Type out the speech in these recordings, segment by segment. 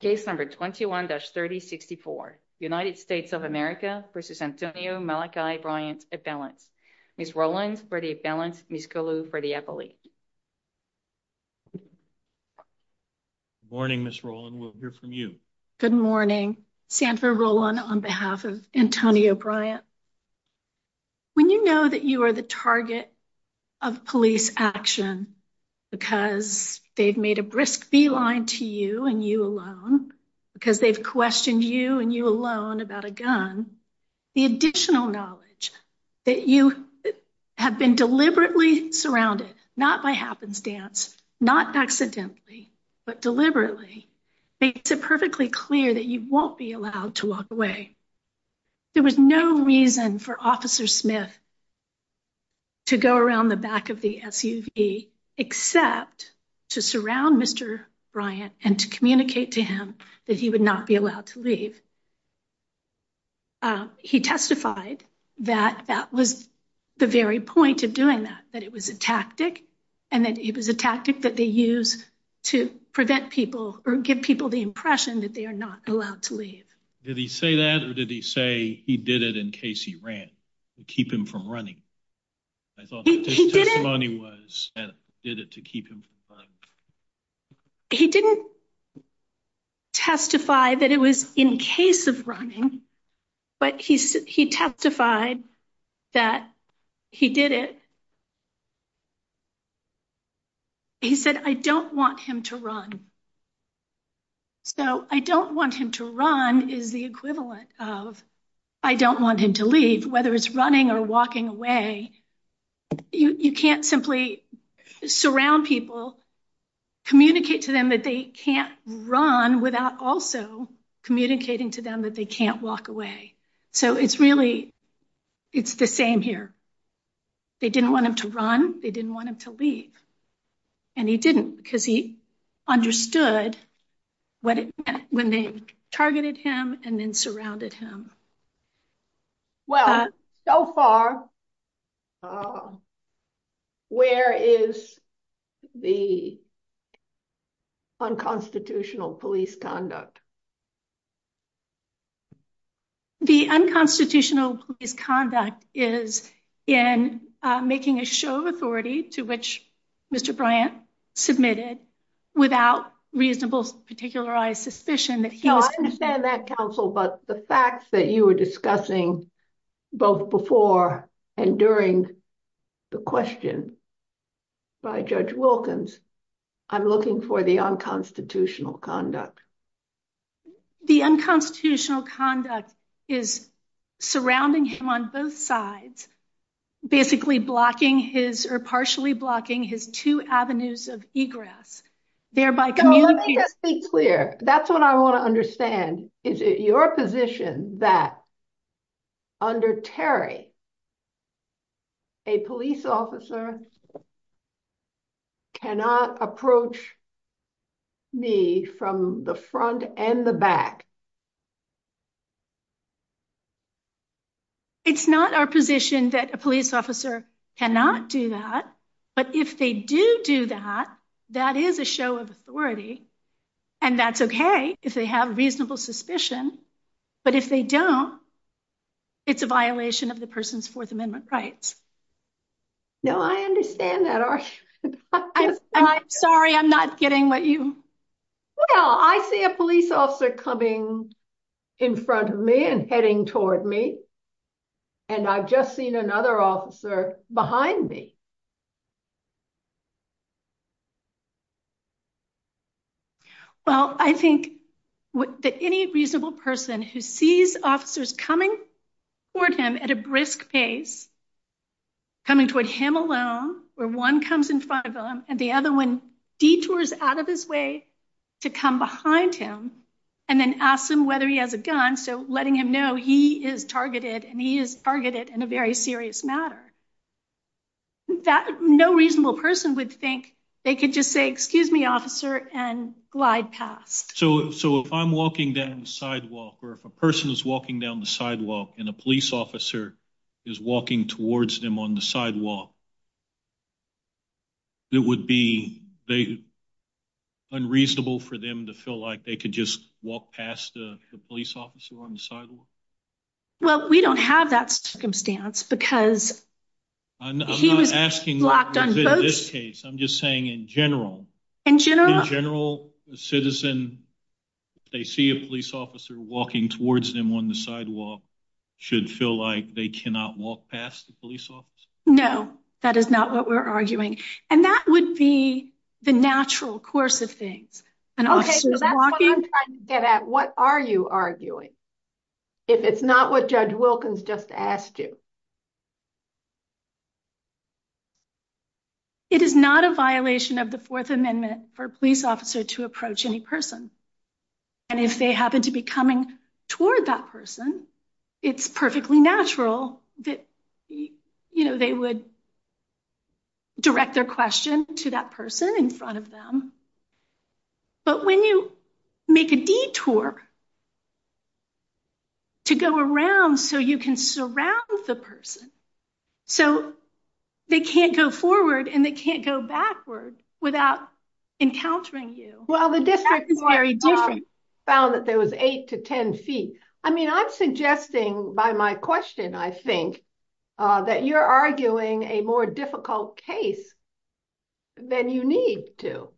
case number 21-3064 united states of america versus antonio malachi bryant appellant miss roland for the appellant miss gulu for the appellate morning miss roland we'll hear from you good morning sanford roland on behalf of antonio bryant when you know that you are the target of police action because they've made a brisk feline to you and you alone because they've questioned you and you alone about a gun the additional knowledge that you have been deliberately surrounded not by happenstance not accidentally but deliberately makes it perfectly clear that you won't be allowed to walk away there was no reason for officer smith to go around the back of the suv except to surround mr bryant and to communicate to him that he would not be allowed to leave he testified that that was the very point of doing that that it was a tactic and that it was a tactic that they use to prevent people or give people the impression that they are not allowed to leave did he say that or did he say he did it in case he ran to keep him from running i thought he did it to keep him he didn't testify that it was in case of running but he said he testified that he did it he said i don't want him to run so i don't want him to run is the equivalent of i don't want him to leave whether it's running or walking away you you can't simply surround people communicate to them that they can't run without also communicating to them that they can't walk away so it's really it's the same here they didn't want him to run they didn't want him to leave and he didn't because he understood what it meant when they targeted him and then surrounded him well so far where is the unconstitutional police conduct the unconstitutional police conduct is in making a show of authority to which mr bryant submitted without reasonable particularized suspicion that he understand that counsel but the facts that you were discussing both before and during the question by judge conduct the unconstitutional conduct is surrounding him on both sides basically blocking his or partially blocking his two avenues of egress thereby clear that's what i want to understand is it your position that under terry a police officer cannot approach me from the front and the back it's not our position that a police officer cannot do that but if they do do that that is a show of authority and that's okay if they have reasonable suspicion but if they don't it's a violation of the person's fourth amendment rights no i understand that i'm sorry i'm not getting what you well i see a police officer coming in front of me and heading toward me and i've just seen another officer behind me well i think that any reasonable person who sees officers coming toward him at a brisk pace coming toward him alone where one comes in front of him and the other one detours out of his way to come behind him and then ask him whether he has a gun so letting him know he is targeted and a very serious matter that no reasonable person would think they could just say excuse me officer and glide past so so if i'm walking down the sidewalk or if a person is walking down the sidewalk and a police officer is walking towards them on the sidewalk it would be they unreasonable for them to feel like they could just walk past the police officer on the sidewalk well we don't have that circumstance because i'm not asking this case i'm just saying in general in general the citizen they see a police officer walking towards them on the sidewalk should feel like they cannot walk past the police officer no that is not what we're arguing and that would be the natural course of and okay so that's what i'm trying to get at what are you arguing if it's not what judge wilkins just asked you it is not a violation of the fourth amendment for a police officer to approach any person and if they happen to be coming toward that person it's perfectly natural that you know they would direct their question to that person in front of them but when you make a detour to go around so you can surround the person so they can't go forward and they can't go backwards without encountering you well the difference is very different found that there was eight to ten feet i mean i'm suggesting by my question i think that you're arguing a more difficult case than you need to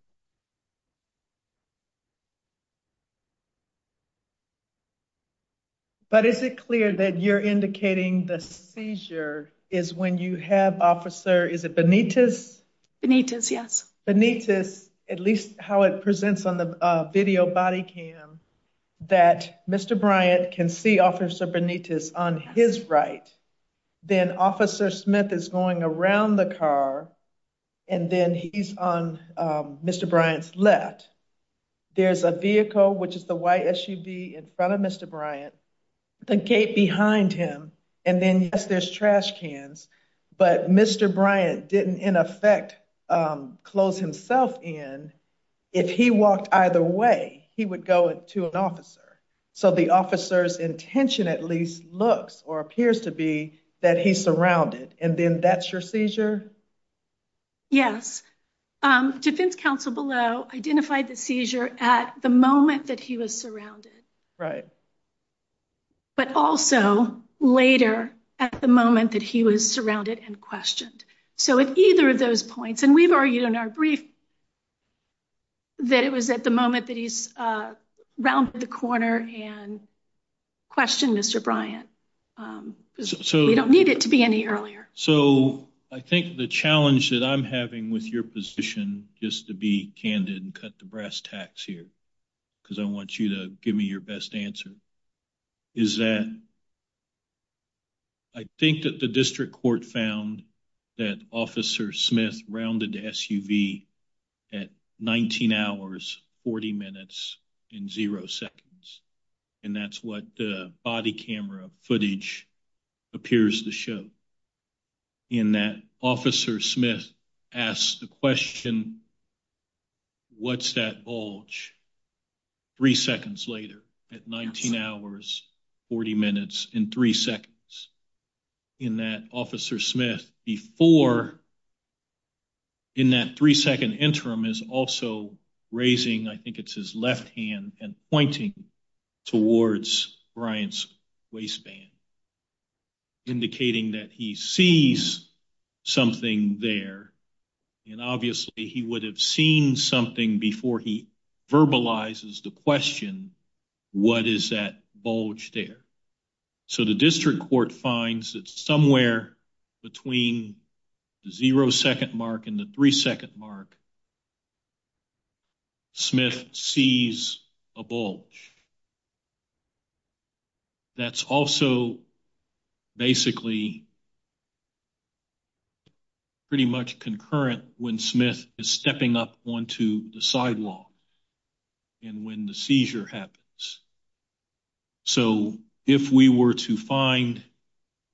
but is it clear that you're indicating the seizure is when you have officer is it benitez benitez yes benitez at least how it presents on the video body cam that mr bryant can see officer benitez on his right then officer smith is going around the car and then he's on mr bryant's left there's a vehicle which is the white sud in front of mr bryant the gate behind him and then yes there's trash cans but mr bryant didn't in effect close himself in if he walked either way he would go to an officer so the officer's intention at least looks or appears to be that he's surrounded and then that's your seizure yes um defense counsel below identified the seizure at the moment that he was surrounded right but also later at the moment that he was surrounded and questioned so at either of those points and we've argued in our brief that it was at the moment that he's uh rounded the corner and questioned mr bryant um so we don't need it to be any earlier so i think the challenge that i'm having with your position just to be candid and cut the brass tacks here because i want you to give me your best answer is that i think that the district court found that officer smith rounded the suv at 19 hours 40 minutes in zero seconds and that's what the body camera footage appears to show in that officer smith asks the question what's that bulge three seconds later at 19 hours 40 minutes in three seconds in that officer smith before in that three second interim is also raising i think it's his left hand and pointing towards bryant's waistband indicating that he sees something there and obviously he would have seen something before he verbalizes the question what is that bulge there so the district court finds that somewhere between the zero second mark and the three second mark smith sees a bulge that's also basically pretty much concurrent when smith is stepping up onto the sidewalk and when the seizure happens so if we were to find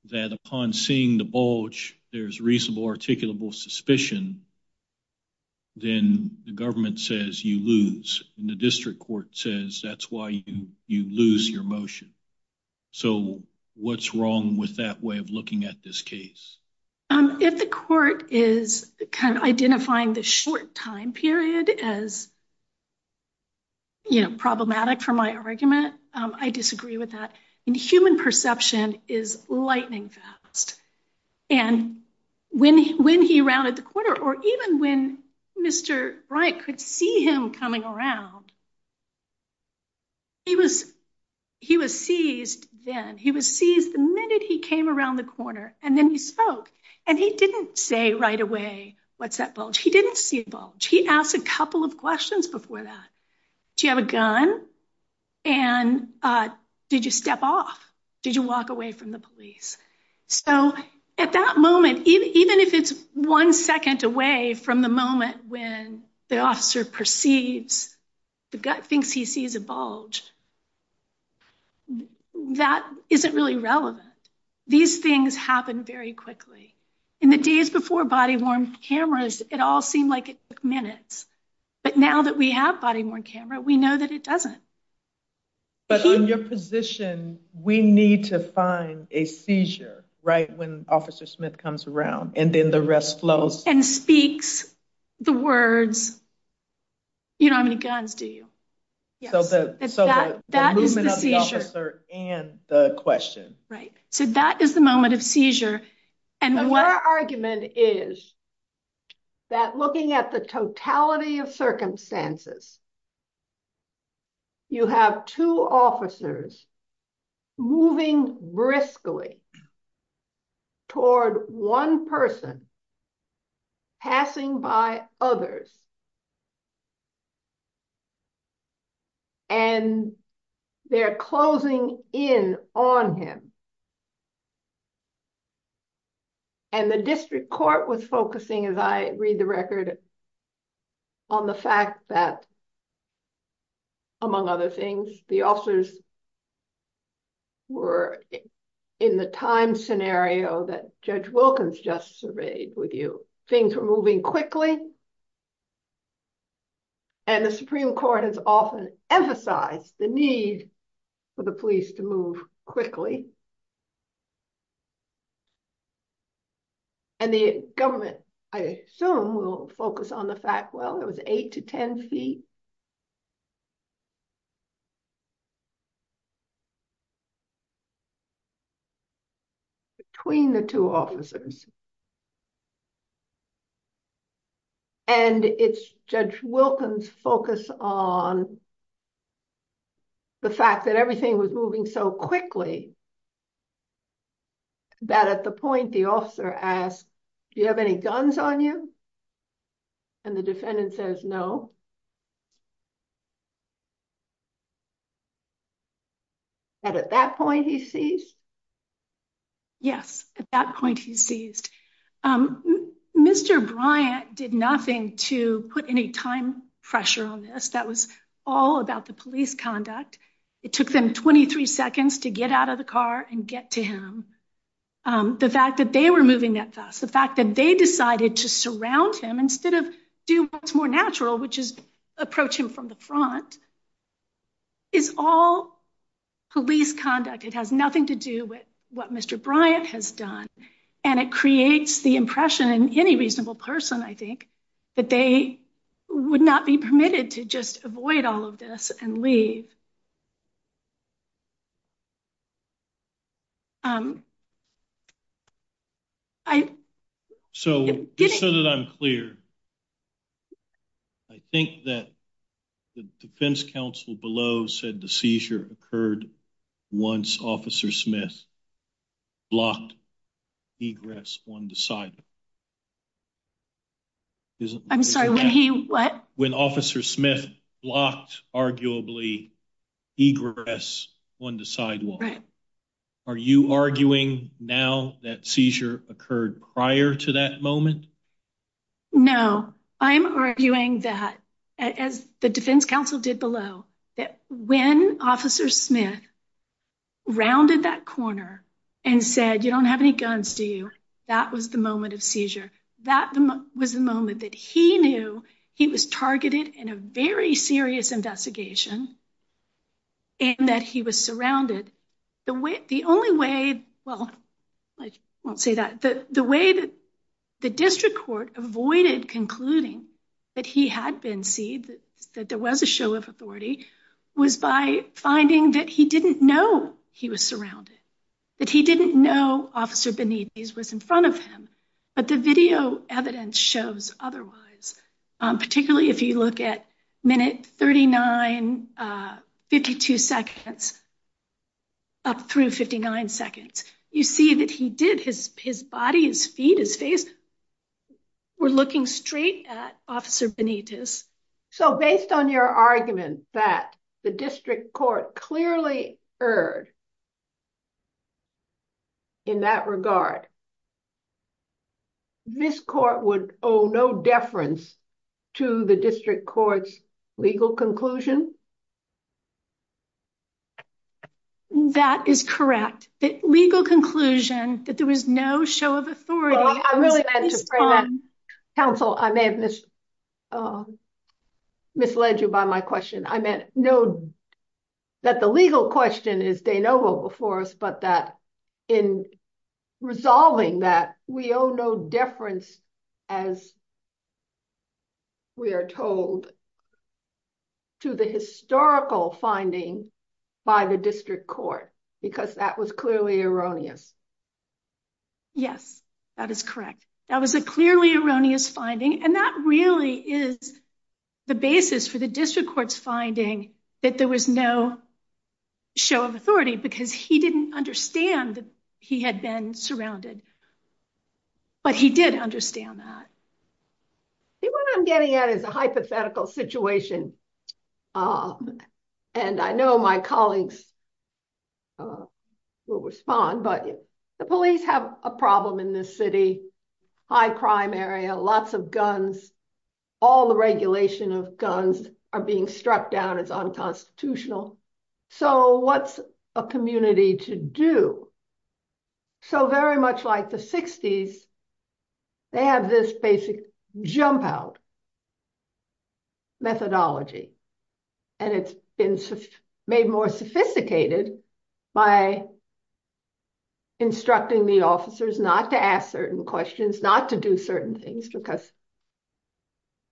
that upon seeing the bulge there's reasonable articulable suspicion then the government says you lose and the district court says that's why you you lose your motion so what's wrong with that way of looking at this case if the court is kind of identifying the short time period as you know problematic for my argument i disagree with that and human perception is lightning fast and when when he rounded the corner or even when mr bright could see him coming around he was he was seized then he was seized the minute he came around the corner and then he spoke and he didn't say right away what's that bulge he didn't see a bulge he asked a couple of questions before do you have a gun and uh did you step off did you walk away from the police so at that moment even if it's one second away from the moment when the officer proceeds the guy thinks he sees a bulge that isn't really relevant these things happen very quickly in the days before body-worn cameras it all seemed like it took minutes but now that we have body-worn camera we know that it doesn't but in your position we need to find a seizure right when officer smith comes around and then the rest flows and speaks the words you don't have any guns do you yeah so the so the movement of the officer and the question right so that is the moment of seizure and what argument is that looking at the totality of circumstances you have two officers moving briskly toward one person passing by others and they're closing in on him and the district court was focusing as i read the record on the fact that among other things the officers were in the time scenario that judge wilkins just surveyed with you things were moving quickly and the supreme court has often emphasized the need for the police to move quickly and the government i assume will focus on the fact well it was eight to ten feet between the two officers and it's judge wilkins focus on the fact that everything was moving so quickly that at the point the officer asked do you have any guns on you and the defendant says no and at that point he sees yes at that point he sees um mr bryant did nothing to put any time pressure on this that was all about the police conduct it took them 23 seconds to get out of the car and get to him um the fact that they were moving that fast the fact that they decided to front is all police conduct it has nothing to do with what mr bryant has done and it creates the impression in any reasonable person i think that they would not be permitted to just avoid all of this and leave um i so just so that i'm clear i think that the defense council below said the seizure occurred once officer smith blocked egress on the sidewalk i'm sorry what when officer smith blocked arguably egress on the sidewalk are you arguing now that seizure occurred prior to that moment no i'm arguing that as the defense council did below when officer smith rounded that corner and said you don't have any guns to you that was the moment of seizure that was the moment that he knew he was targeted in a very serious investigation and that he was surrounded the way the only way well i won't say that the the way that the district court avoided concluding that he had been seen that there was a show of authority was by finding that he didn't know he was surrounded that he didn't know officer benedict was in front of him but the video evidence shows otherwise um particularly if you look at minute 39 uh 52 seconds up through 59 seconds you see that he did his his body his feet his face we're looking straight at officer benedict is so based on your argument that the district court clearly heard in that regard this court would owe no deference to the district court's legal conclusion that is correct the legal conclusion that there was no show of authority i really had to the legal question is de novo before us but that in resolving that we owe no deference as we are told to the historical finding by the district court because that was clearly erroneous yes that is correct that was a clearly erroneous finding and that really is the basis for the show of authority because he didn't understand that he had been surrounded but he did understand that see what i'm getting at is a hypothetical situation and i know my colleagues uh will respond but the police have a problem in this city high crime area lots of guns all the regulation of guns are being struck down as unconstitutional so what's a community to do so very much like the 60s they have this basic jump out methodology and it's been made more sophisticated by instructing the officers not to ask certain questions not to do certain things because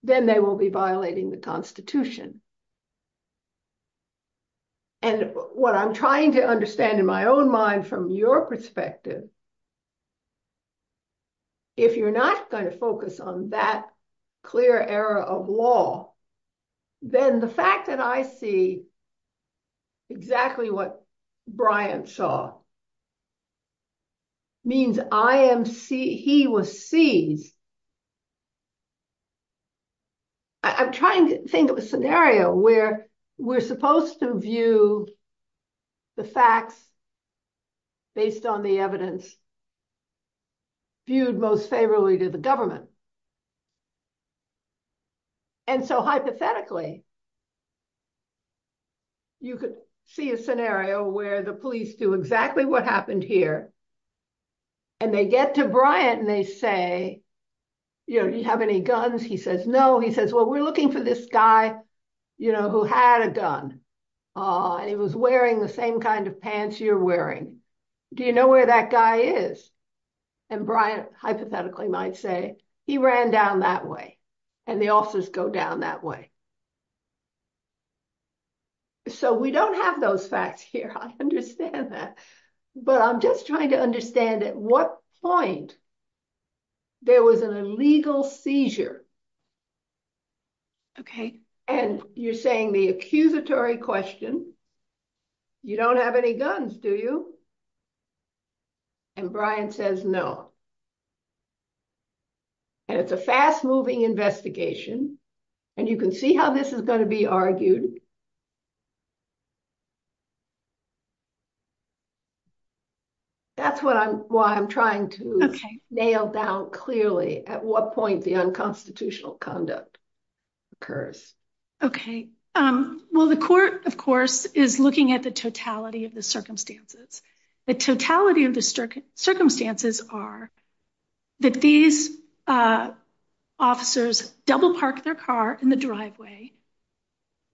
then they will be violating the constitution and what i'm trying to understand in my own mind from your perspective if you're not going to focus on that clear error of law then the fact that i see exactly what brian saw means i am see he was seen i'm trying to think of a scenario where we're supposed to view the facts based on the evidence viewed most favorably to the government and so hypothetically you could see a scenario where the police do exactly what happened here and they get to brian and they say you know do you have any guns he says no he says well we're looking for this guy you know who had a gun uh and he was wearing the same kind of pants you're wearing do you know where that guy is and brian hypothetically might say he ran down that way and the officers go down that way so we don't have those facts here i understand that but i'm just trying to understand at what point there was an illegal seizure okay and you're saying the accusatory question you don't have any guns do you and brian says no and it's a fast-moving investigation and you can see how this is going to be argued that's what i'm why i'm trying to nail down clearly at what point the unconstitutional conduct occurs okay um well the court of course is looking at the totality of the circumstances the totality of the circumstances are that these uh officers double park their car in the driveway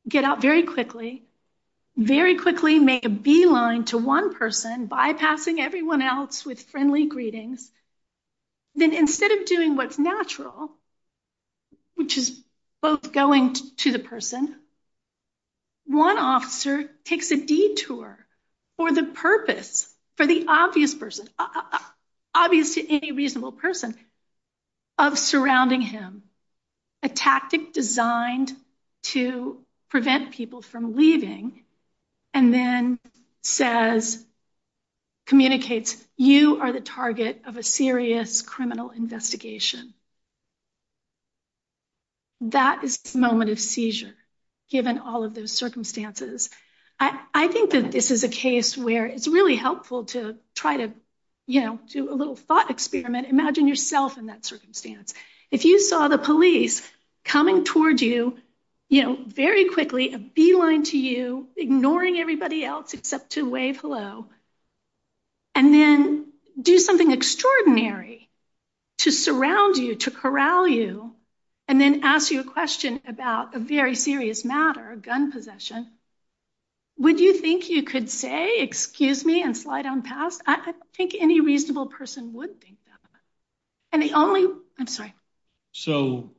get out very quickly very quickly make a beeline to one person bypassing everyone else with friendly greetings then instead of doing what's natural which is both going to the person one officer takes a detour for the purpose for the obvious person obvious to any reasonable person of surrounding him a tactic designed to prevent people from leaving and then says communicates you are the target of a serious criminal investigation that moment is seizure given all of those circumstances i i think that this is a case where it's really helpful to try to you know do a little thought experiment imagine yourself in that circumstance if you saw the police coming towards you you know very quickly a beeline to you ignoring everybody else except to wave hello and then do something extraordinary to surround you to corral you and then ask you a question about a very serious matter a gun possession would you think you could say excuse me and slide on past i don't think any reasonable person would think that and the only i'm sorry so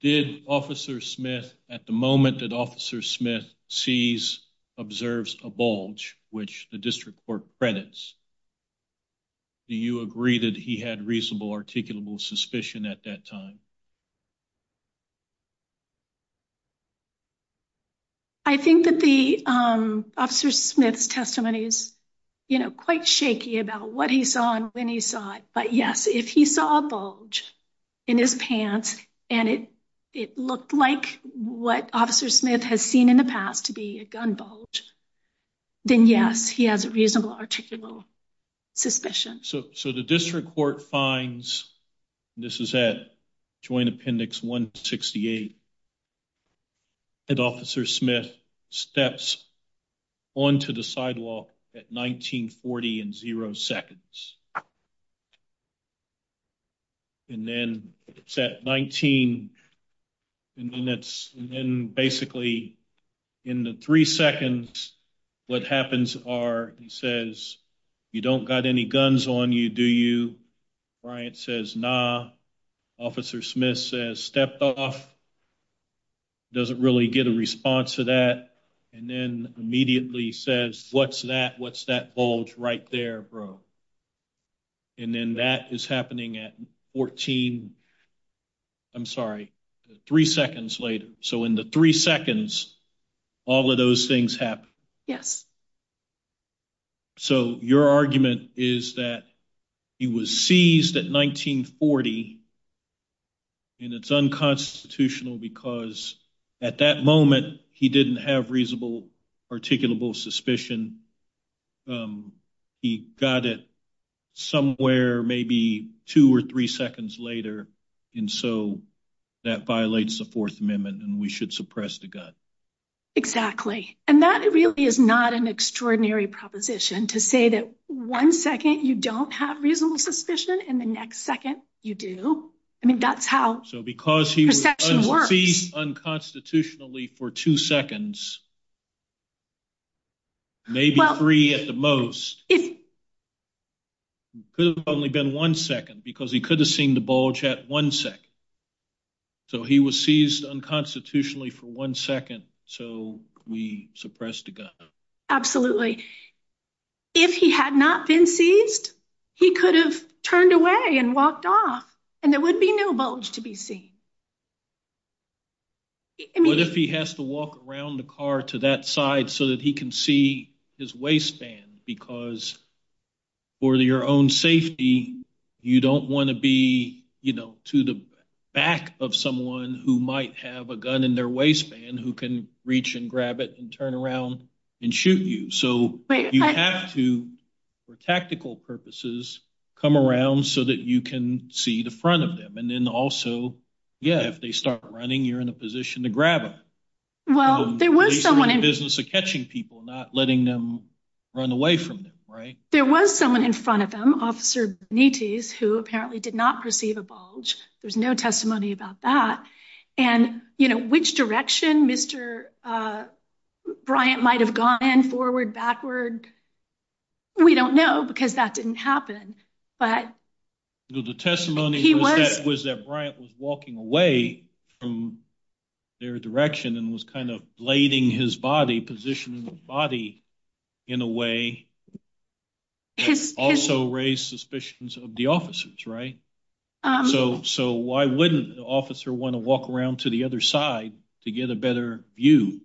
did officer smith at the moment that officer smith sees observes a bulge which the district court credits do you agree that he had reasonable articulable suspicion at that time i think that the um officer smith's testimony is you know quite shaky about what he saw and when he saw it but yes if he saw a bulge in his pants and it it looked like what officer smith has seen in the past to be a gun bulge then yes he has a reasonable articulable suspicion so so the district court finds this is at joint appendix 168 and officer smith steps onto the sidewalk at 1940 in zero seconds and then it's at 19 and then it's and then basically in the three seconds what happens are he says you don't got any guns on you do you brian says nah officer smith says stepped off doesn't really get a response to that and then immediately says what's that what's that bulge right there bro and then that is happening at 14 i'm sorry three seconds later so in the three seconds all of those things happen yes so your argument is that he was seized at 1940 and it's unconstitutional because at that moment he didn't have reasonable articulable suspicion he got it somewhere maybe two or three seconds later and so that violates the fourth amendment and we should suppress the gun exactly and that really is not an extraordinary proposition to say that one second you don't have reasonable suspicion in the next second you do i mean that's he's unconstitutionally for two seconds maybe three at the most it could have probably been one second because he could have seen the bulge at one second so he was seized unconstitutionally for one second so we suppressed the gun absolutely if he had not been seized he could have turned away and walked off and there would be no bulge to be seen what if he has to walk around the car to that side so that he can see his waistband because for your own safety you don't want to be you know to the back of someone who might have a gun in their waistband who can reach and grab it and turn around and shoot you so you have to for tactical purposes come around so that you can see the front of them and then also yeah if they start running you're in a position to grab it well there was someone in business of catching people not letting them run away from them right there was someone in front of them officer nitis who apparently did not perceive a bulge there's no testimony about that and you know which direction mr uh bryant might have gone forward backward we don't know because that didn't happen but the testimony he was that bryant was walking away from their direction and was kind of blading his body positioning the body in a way to also raise suspicions of the officers right um so so why wouldn't the officer want to walk around to the other side to get a better view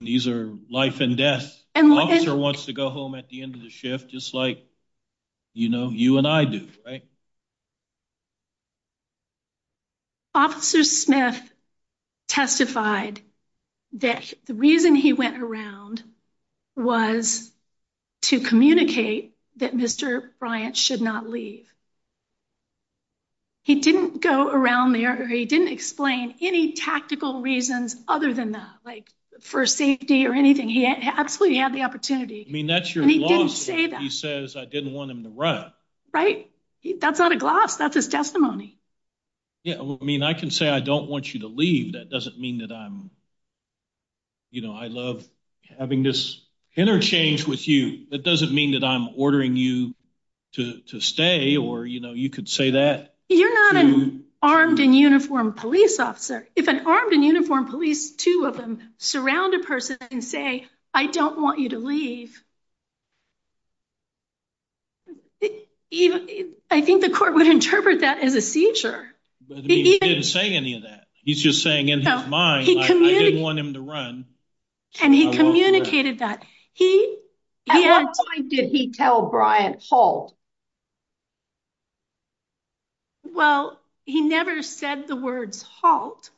these are life and death and officer wants to go home at the end of the shift just like you know you and i do right officer smith testified that the reason he went around was to communicate that mr bryant should not leave he didn't go around there he didn't explain any tactical reasons other than that like for safety or anything he had absolutely had the opportunity i mean that's your he says i didn't want him to run right that's out of glass that's his testimony yeah well i mean i can say i don't want you to leave that doesn't mean that i'm you know i love having this interchange with you that doesn't mean that i'm ordering you to to stay or you know you could say that you're not an armed and uniformed police officer if an armed and uniformed police two of them surround a person and say i don't want you to leave i think the court would interpret that as a seizure he didn't say any of that he's just saying in his mind and he communicated that he at what point did he tell bryant halt well he never said the words halt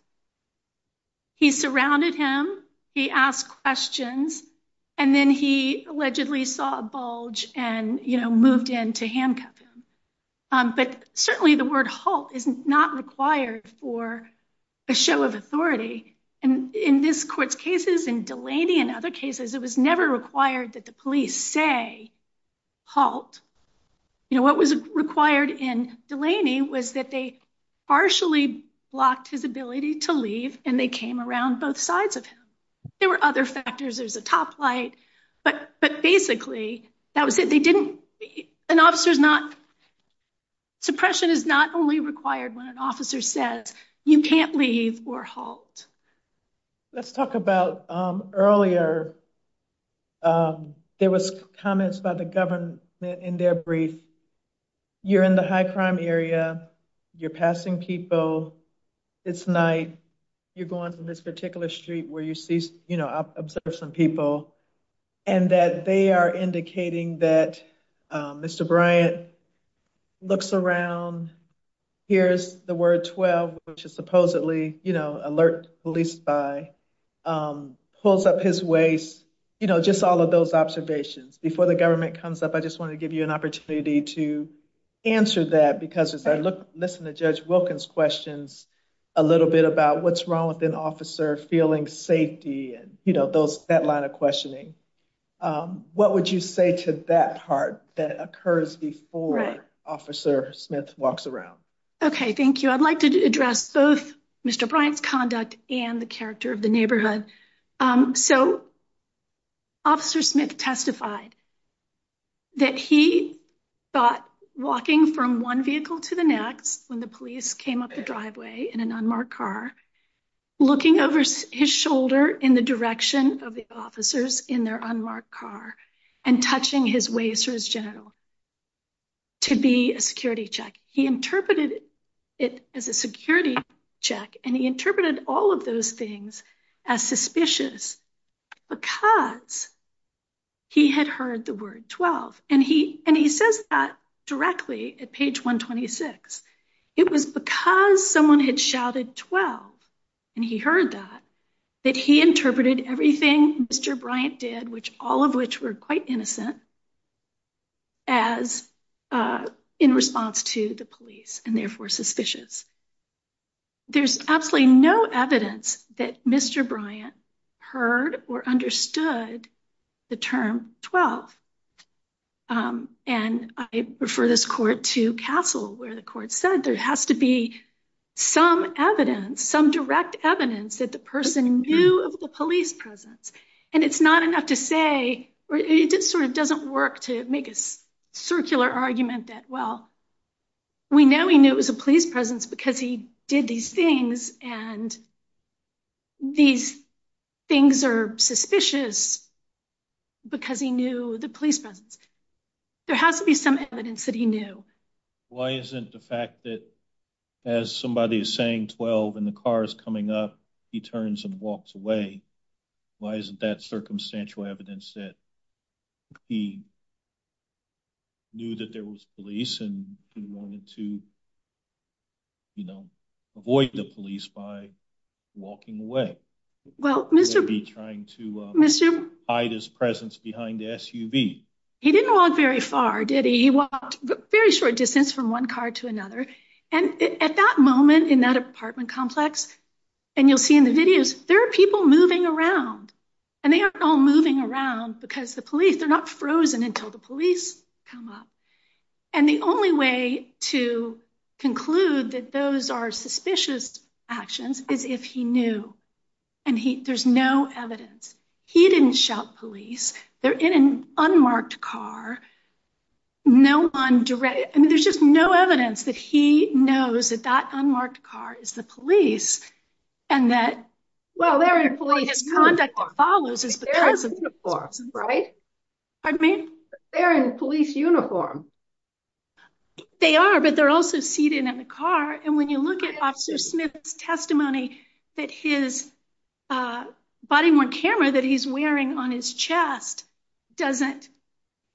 he surrounded him he asked questions and then he allegedly saw bulge and you know moved in to handcuff him but certainly the word halt is not required for a show of authority and in this court's cases and delaney and other cases it was never required that the police say halt you know what was required in delaney was that they partially blocked his ability to leave and they came around both sides of him there were other factors there's a top light but but basically that was it they didn't an officer's not suppression is not only required when an officer says you can't leave or halt let's talk about um earlier um there was comments about the government in their brief you're in the high crime area you're passing kipo it's night you're going in this particular street where you see you know observe some people and that they are indicating that mr bryant looks around here's the word 12 which is supposedly you know alert police by um pulls up his waist you know just all of those observations before the government comes up i just want to give you an opportunity to answer that because as i look listen to judge wilkins questions a little bit about what's wrong with an officer feeling safety and you know those that line of questioning um what would you say to that part that occurs before officer smith walks around okay thank you i'd like to address both mr bryant's conduct and the character of the neighborhood um so officer smith testified that he thought walking from one vehicle to the next when the police came up the driveway in an unmarked car looking over his shoulder in the direction of the officers in their unmarked car and touching his waist or his genital to be a security check he interpreted it as a security check and he interpreted all of those as suspicious because he had heard the word 12 and he and he says that directly at page 126 it was because someone had shouted 12 and he heard that that he interpreted everything mr bryant did which all of which were quite innocent as uh in response to the police and absolutely no evidence that mr bryant heard or understood the term 12th um and i refer this court to castle where the court said there has to be some evidence some direct evidence that the person knew of the police presence and it's not enough to say or it just sort of doesn't work to make a circular argument that well we know he knew it was a police presence because he did these things and these things are suspicious because he knew the policemen there has to be some evidence that he knew why isn't the fact that as somebody is saying 12 and the car is coming up he turns and walks away why isn't that circumstantial evidence that he knew that there was police and he wanted to you know avoid the police by walking away well trying to hide his presence behind the suv he didn't walk very far did he he walked very short distance from one car to another and at that moment in that apartment complex and you'll see in the videos there are people moving around and they are all moving around because the police they're not frozen until the police come up and the only way to conclude that those are suspicious actions is if he knew and he there's no evidence he didn't shout police they're in an unmarked car no one direct and there's just no evidence that he knows that that unmarked car is the police and that well they're in police uniform they are but they're also seated in the car and when you look at officer smith's testimony that his body on camera that he's wearing on his chest doesn't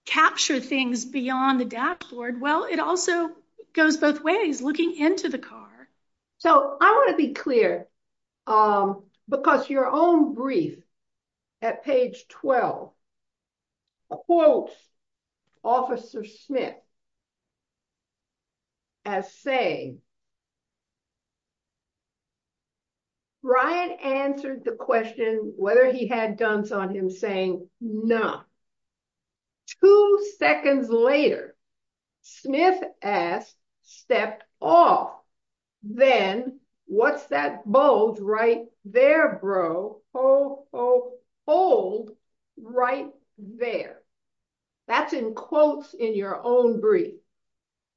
capture things beyond the dashboard well it also goes both ways looking into the car so i want to be clear um because your own brief at page 12 quotes officer smith as saying no brian answered the question whether he had guns on him saying no two seconds later sniff asked stepped off then what's that bold right there bro oh oh hold right there that's in quotes in your own brief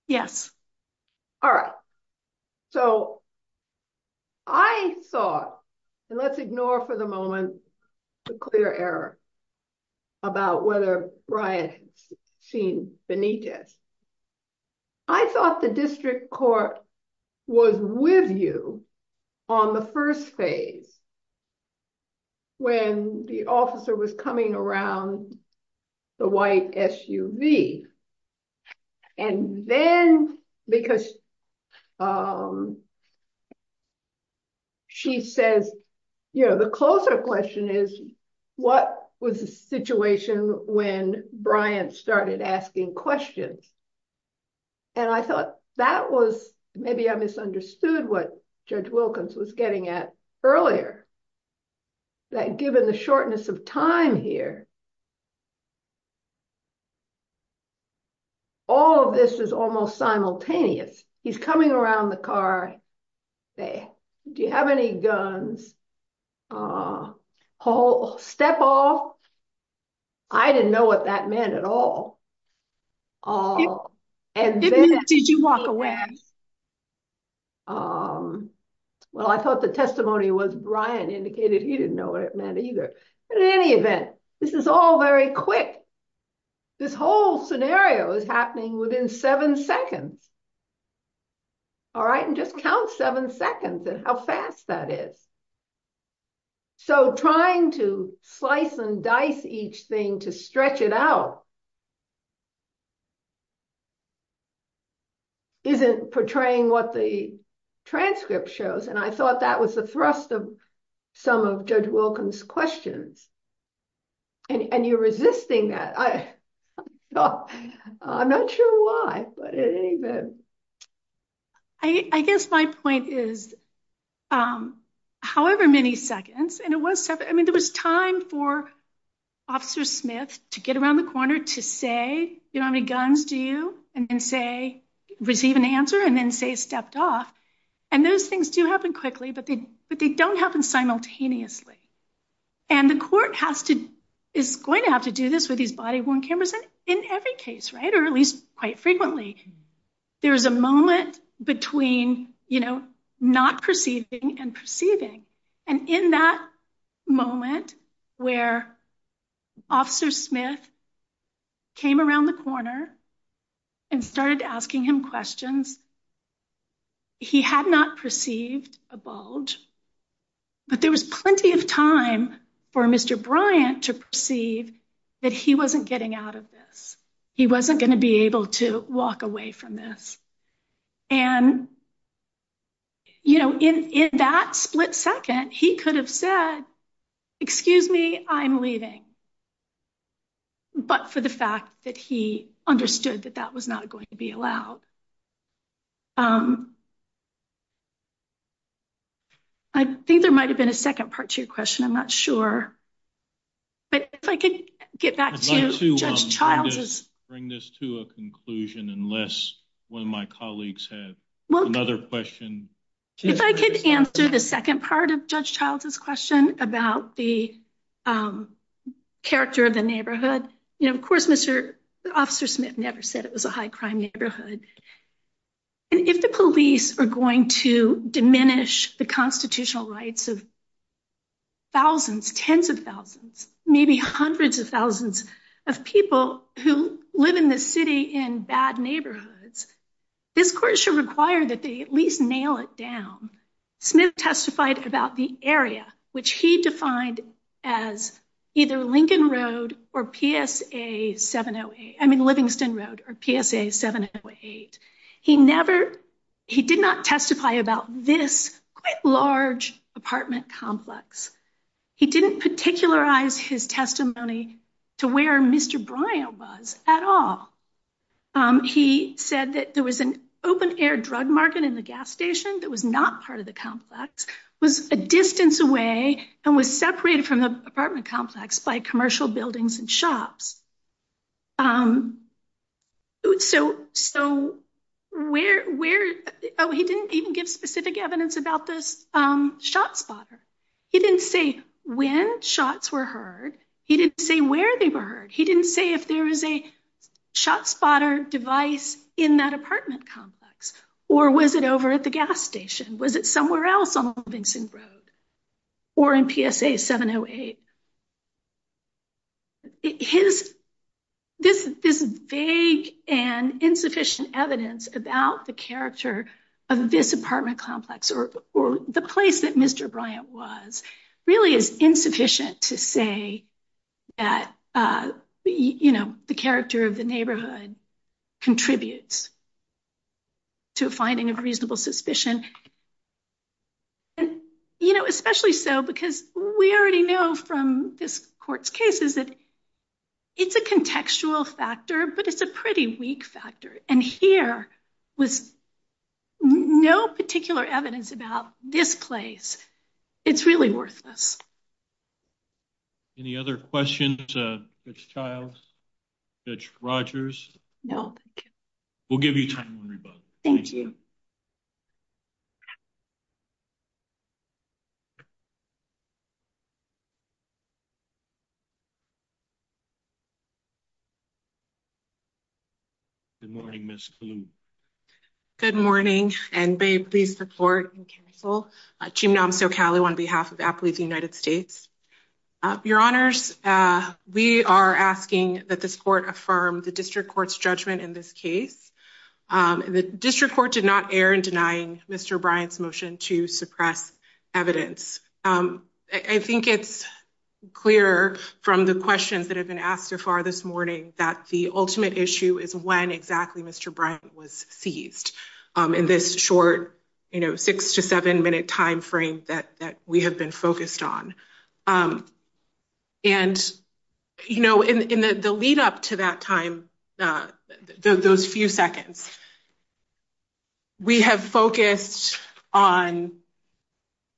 yes all right so i thought and let's ignore for the moment the clear error about whether brian seen benitez i thought the district court was with you on the first phase when the officer was coming around the white suv and then because um she says you know the closer question is what was the situation when brian started asking questions and i thought that was maybe i misunderstood what judge wilkins was getting at earlier that given the shortness of time here all of this is almost simultaneous he's coming around the car say do you have any guns uh whole step off i didn't know what that meant at all um and then did you walk away um well i thought the testimony was brian indicated he didn't know what it meant either in any event this is all very quick this whole scenario is happening within seven seconds all right and just count seven seconds and how fast that is so trying to slice and dice each thing to stretch it out isn't portraying what the transcript shows and i thought that was the thrust of wilkins questions and you're resisting that i i'm not sure why but in any event i i guess my point is um however many seconds and it was i mean there was time for officer smith to get around the corner to say you don't have any guns do you and then say receive an answer and then say stepped off and those things do happen quickly but they don't happen simultaneously and the court has to is going to have to do this with these body worn cameras in every case right or at least quite frequently there's a moment between you know not perceiving and perceiving and in that moment where officer smith came around the corner and started asking him questions he had not perceived a bulge but there was plenty of time for mr bryant to perceive that he wasn't getting out of this he wasn't going to be able to walk away from this and you know in in that split second he could have said excuse me i'm leaving but for the fact that he understood that that was not going to be allowed um i think there might have been a second part to your question i'm not sure but if i could get back to judge child bring this to a conclusion unless one of my colleagues had well another question if i could answer the second part of judge child's question about the um character of the neighborhood you know of course mr officer smith never said it was a high crime neighborhood and if the police are going to diminish the constitutional rights of thousands tens of thousands maybe hundreds of thousands of people who live in the city in bad neighborhoods this court should require that they at least nail it down smith testified about the as either lincoln road or psa 708 i mean livingston road or psa 708 he never he did not testify about this quite large apartment complex he didn't particularize his testimony to where mr bryant was at all um he said that there was an open air drug market in the gas station that was not part of the complex was a distance away and was separated from the apartment complex by commercial buildings and shops um so so where where oh he didn't even give specific evidence about this um shot spotter he didn't say when shots were heard he didn't say where they were heard he didn't say if there is a shot spotter device in that apartment complex or was it over at the gas station was it somewhere else on lincoln road or in psa 708 his this this vague and insufficient evidence about the character of this apartment complex or or the place that mr bryant was really is insufficient to say that uh you know the suspicion and you know especially so because we already know from this court's cases that it's a contextual factor but it's a pretty weak factor and here with no particular evidence about this place it's really worthless any other questions uh which childs ditch rogers no we'll give you time to rebut thank you good morning miss good morning and please support and counsel on behalf of athletes united states uh your honors uh we are asking that this court affirm the district court's judgment in this case um the district court did not err in denying mr bryant's motion to suppress evidence um i think it's clear from the questions that have been asked so far this morning that the ultimate issue is when exactly mr bryant was seized um in this short you know six to seven minute time frame that that we have been focused on um and you know in the lead up to that time uh those few seconds we have focused on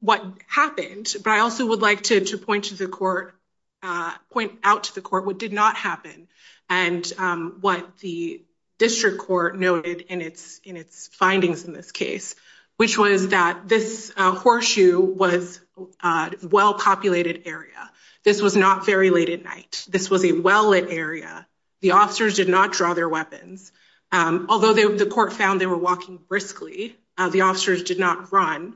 what happened but i also would like to point to the court uh point out to the court what did happen and what the district court noted in its in its findings in this case which was that this horseshoe was a well-populated area this was not very late at night this was a well-lit area the officers did not draw their weapons although the court found they were walking briskly the officers did not run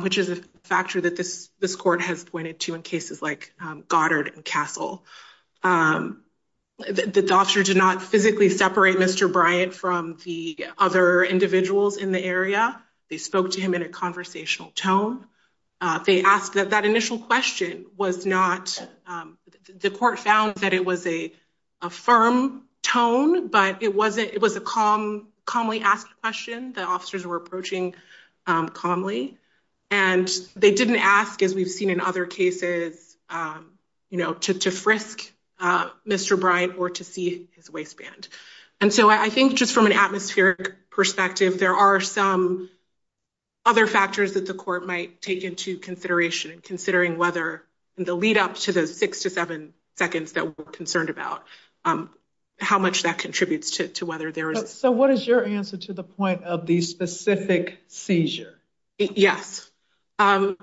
which is a factor that this this court has pointed to in cases like the doctor did not physically separate mr bryant from the other individuals in the area they spoke to him in a conversational tone uh they asked that that initial question was not um the court found that it was a a firm tone but it wasn't it was a calm calmly asked question the officers were to see his waistband and so i think just from an atmospheric perspective there are some other factors that the court might take into consideration considering whether in the lead up to those six to seven seconds that we're concerned about um how much that contributes to whether there is so what is your answer to the point of the specific seizure yes um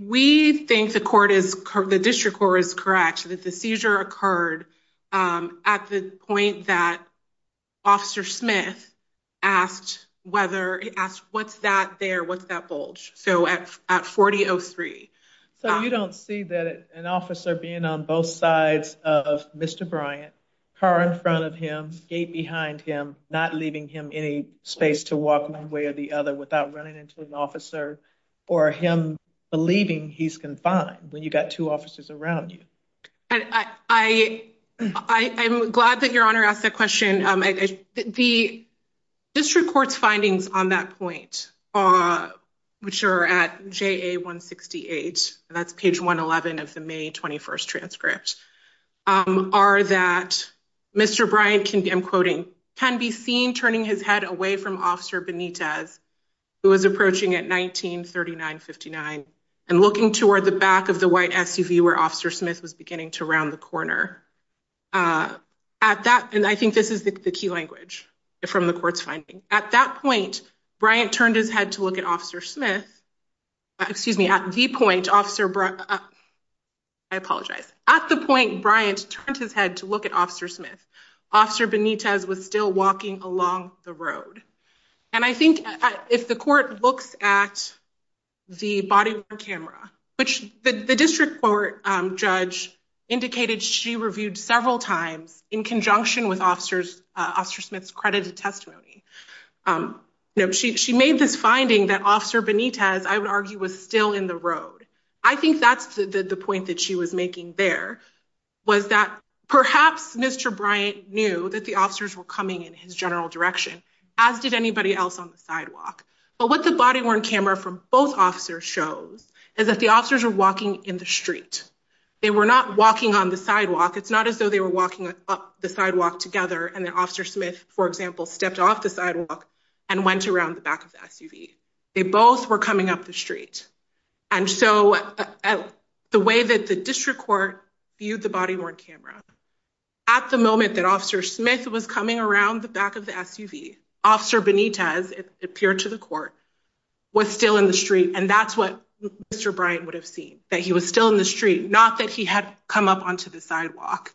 we think the court is the district court is correct that the seizure occurred um at the point that officer smith asked whether he asked what's that there what's that bulge so at at 4003 so you don't see that an officer being on both sides of mr bryant car in front of him skate behind him not leaving him any space to walk one way or the other without running into his officer or him believing he's confined when you got two officers around you and i i i i'm glad that your honor asked that question um the district court's findings on that point uh which are at ja 168 that's page 111 of the may 21st transcript um are that mr bryant can be i'm quoting can be seen turning his head away from officer benitez who was approaching at 1939 59 and looking toward the back of the white suv where officer smith was beginning to round the corner uh at that and i think this is the key language from the court's finding at that point bryant turned his head to look at officer smith excuse me at the point officer bro i apologize at the point bryant turns his head to look at officer smith officer benitez was still walking along the road and i think if the court looks at the body camera which the district court um judge indicated she reviewed several times in conjunction with officers uh officer smith's credited testimony um no she made this finding that officer benitez i would argue was still in the road i think that's the the point that she was making there was that perhaps mr bryant knew that the officers were coming in his general direction as did anybody else on the sidewalk but what the body worn camera from both officers shows is that the officers were walking in the street they were not walking on the sidewalk it's not as though they were walking up the sidewalk together and then officer smith for they both were coming up the street and so the way that the district court viewed the body worn camera at the moment that officer smith was coming around the back of the suv officer benitez it appeared to the court was still in the street and that's what mr bryant would have seen that he was still in the street not that he had come up onto the sidewalk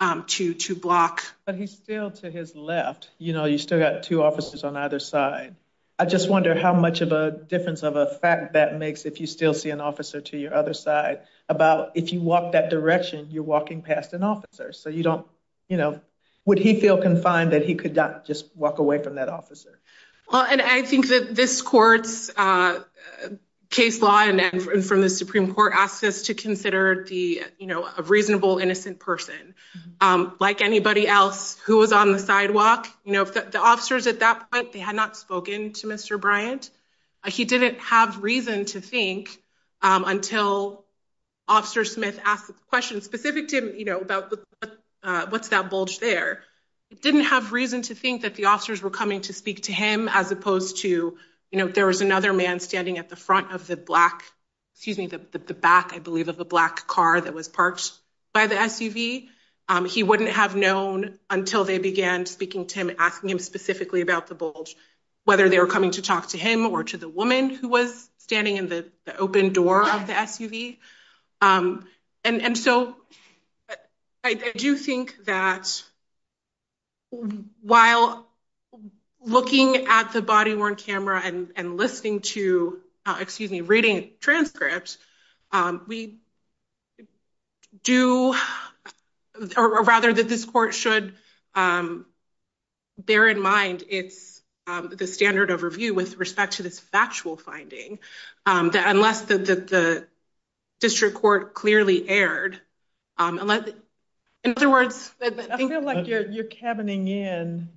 um two two blocks but he's to his left you know you still got two officers on either side i just wonder how much of a difference of a fact that makes if you still see an officer to your other side about if you walk that direction you're walking past an officer so you don't you know would he feel confined that he could not just walk away from that officer well and i think that this court's uh case law and from the supreme court asked us to consider the you know a reasonable innocent person um like anybody else who was on the sidewalk you know the officers at that point they had not spoken to mr bryant he didn't have reason to think um until officer smith asked a question specific to him you know about what's that bulge there he didn't have reason to think that the officers were coming to speak to him as opposed to you know if there was another man standing at the front of the black excuse me the back i believe of the black car that was parked by the suv um he wouldn't have known until they began speaking to him asking him specifically about the bulge whether they were coming to talk to him or to the woman who was standing in the open door of the suv um and and so i do think that while looking at the body worn camera and and listening to excuse me reading transcripts um we do or rather that this court should um bear in mind it's um the standard of review with respect to this actual finding that unless the the district court clearly aired um unless in other words i feel like you're cabining in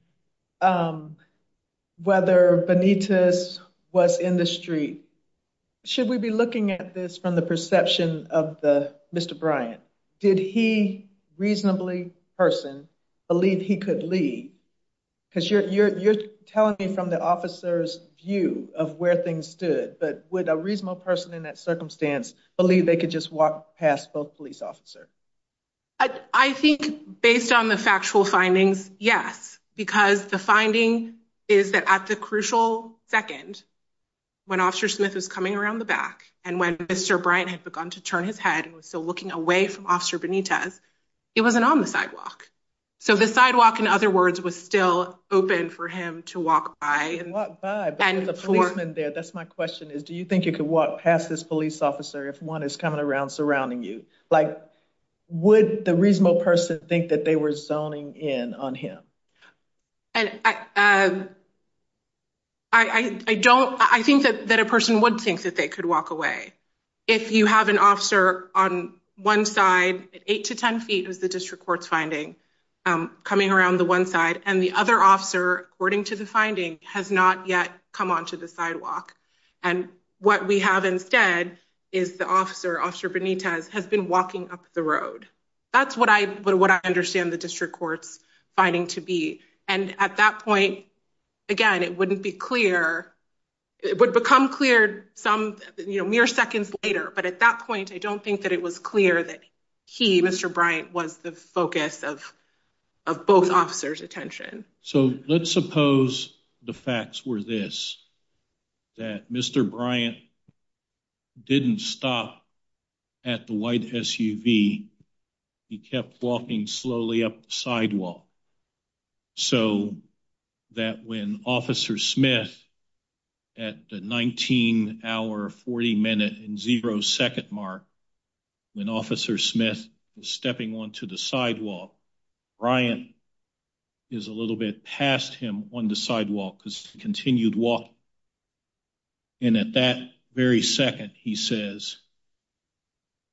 um whether benitez was in the street should we be looking at this from the perception of the mr bryant did he reasonably person believe he could leave because you're you're you're telling me from the officer's view of where things stood but with a reasonable person in that circumstance believe they could just walk past both police officer i think based on the factual findings yes because the finding is that at the crucial second when officer smith is coming around the back and when mr bryant has begun to turn his head he was still looking away from officer benitez he wasn't on the sidewalk so the sidewalk in other words was still open for him to walk by and walk in there that's my question is do you think you could walk past this police officer if one is coming around surrounding you like would the reasonable person think that they were zoning in on him and i as i i don't i think that that a person would think that they could walk away if you have an officer on one side eight to ten feet is the district court's finding coming around the one side and the other officer according to the finding has not yet come onto the sidewalk and what we have instead is the officer officer benitez has been walking up the road that's what i what i understand the district court's finding to be and at that point again it wouldn't be clear it would become clear some you know mere seconds later but at that point i don't think that it was clear that he mr bryant was the focus of both officers attention so let's suppose the facts were this that mr bryant didn't stop at the white suv he kept walking slowly up sidewalk so that when officer smith at the 19 hour 40 minute and zero second mark when officer smith is stepping onto the sidewalk bryant is a little bit past him on the sidewalk because he continued walking and at that very second he says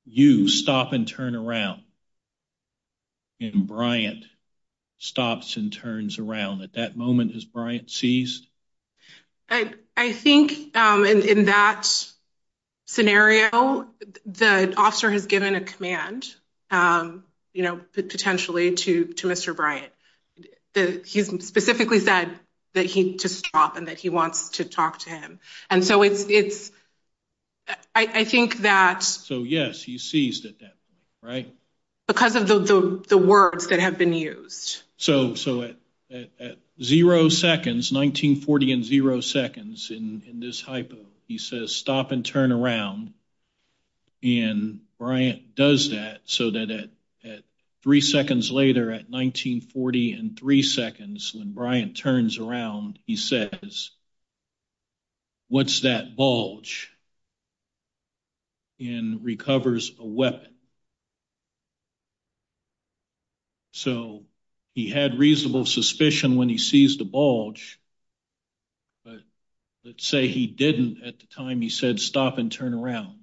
you stop and turn around and bryant stops and turns around at that moment as bryant sees i i think um in that scenario the officer has given a command um you know potentially to to mr bryant that he specifically said that he just stopped and that he wants to talk to him and so it's i i think that so yes he sees that that right because of the the words that have been used so so at at zero seconds 1940 and zero seconds in in this hypo he says stop and turn around and bryant does that so that at three seconds later at 1940 and three seconds when bryant turns around he says what's that bulge and recovers a weapon so he had reasonable suspicion when he sees the bulge but let's say he didn't at the time he said stop and turn around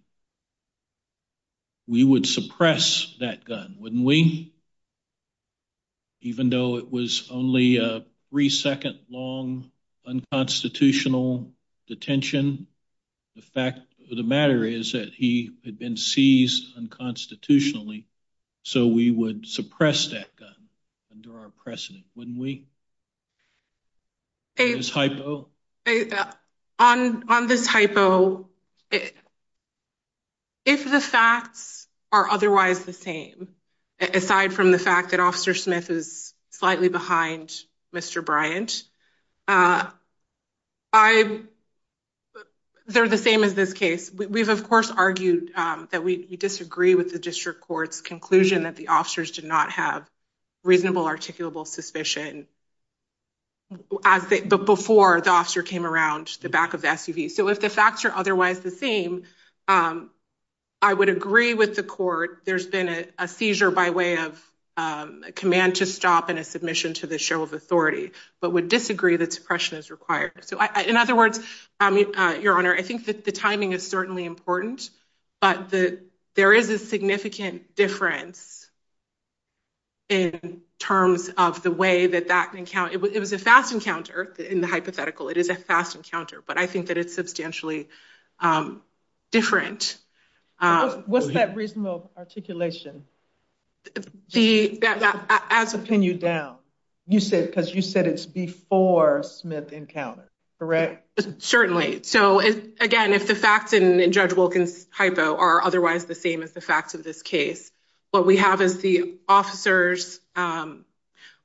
we would suppress that gun wouldn't we even though it was only a three second long unconstitutional detention the fact of the matter is that he had been seized unconstitutionally so we would suppress that gun under our precedent wouldn't we this hypo on on this hypo if the facts are otherwise the same aside from the fact that officer smith is slightly behind mr bryant uh i've they're the same as this case we've of course argued um that we disagree with the district court's conclusion that the officers did not have reasonable articulable suspicion as before the officer came around the back of the suv so if the facts are otherwise the same i would agree with the court there's been a seizure by way of a command to stop and a submission to the show of authority but would disagree that suppression is required so in other words um your honor i think that the timing is certainly important but the there is a significant difference in terms of the way that that encounter it was a fast encounter in the hypothetical it is a fast encounter but i think that it's substantially um different what's that reasonable articulation the as a pin you down you said because you said it's before smith encounters correct certainly so it's again if the facts in judge wilkins hypo are otherwise the same as the facts of this case what we have is the officers um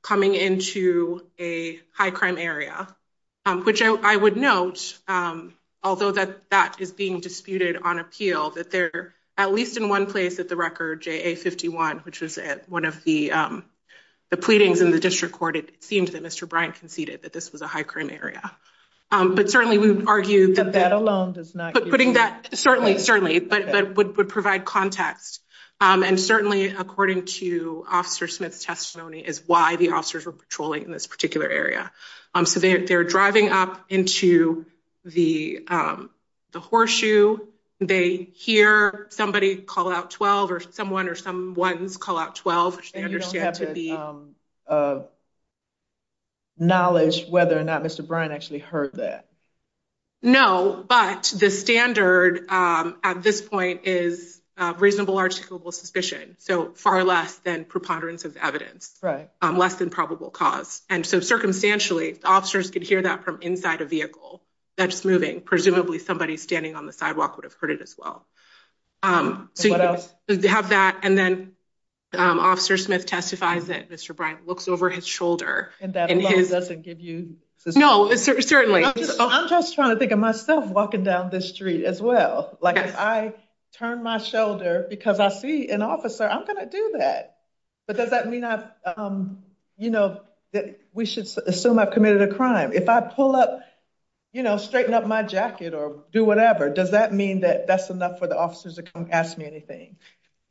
coming into a high crime area um which i would note um although that that is being disputed on appeal that they're at least in one place that the record ja 51 which is at one of the um the pleadings in the district court it seems that mr bryant conceded that this was a high crime area um but certainly we've argued that that alone does not but putting that certainly certainly but but would provide context um and certainly according to officer smith's testimony is why the officers were patrolling in this particular area um so they're driving up into the um the horseshoe they hear somebody call out 12 or someone or someone's call out 12 which they heard that no but the standard um at this point is uh reasonable articulable suspicion so far less than preponderance of evidence right um less than probable cause and so circumstantially officers could hear that from inside a vehicle that's moving presumably somebody standing on the sidewalk would have heard it as well um to have that and then um officer smith testifies that mr bryant looks over his shoulder and that doesn't give you no certainly i'm just trying to think of myself walking down this street as well like i turn my shoulder because i see an officer i'm going to do that but does that mean i um you know that we should assume i've committed a crime if i pull up you know straighten up my jacket or do whatever does that mean that that's enough for officers to come ask me anything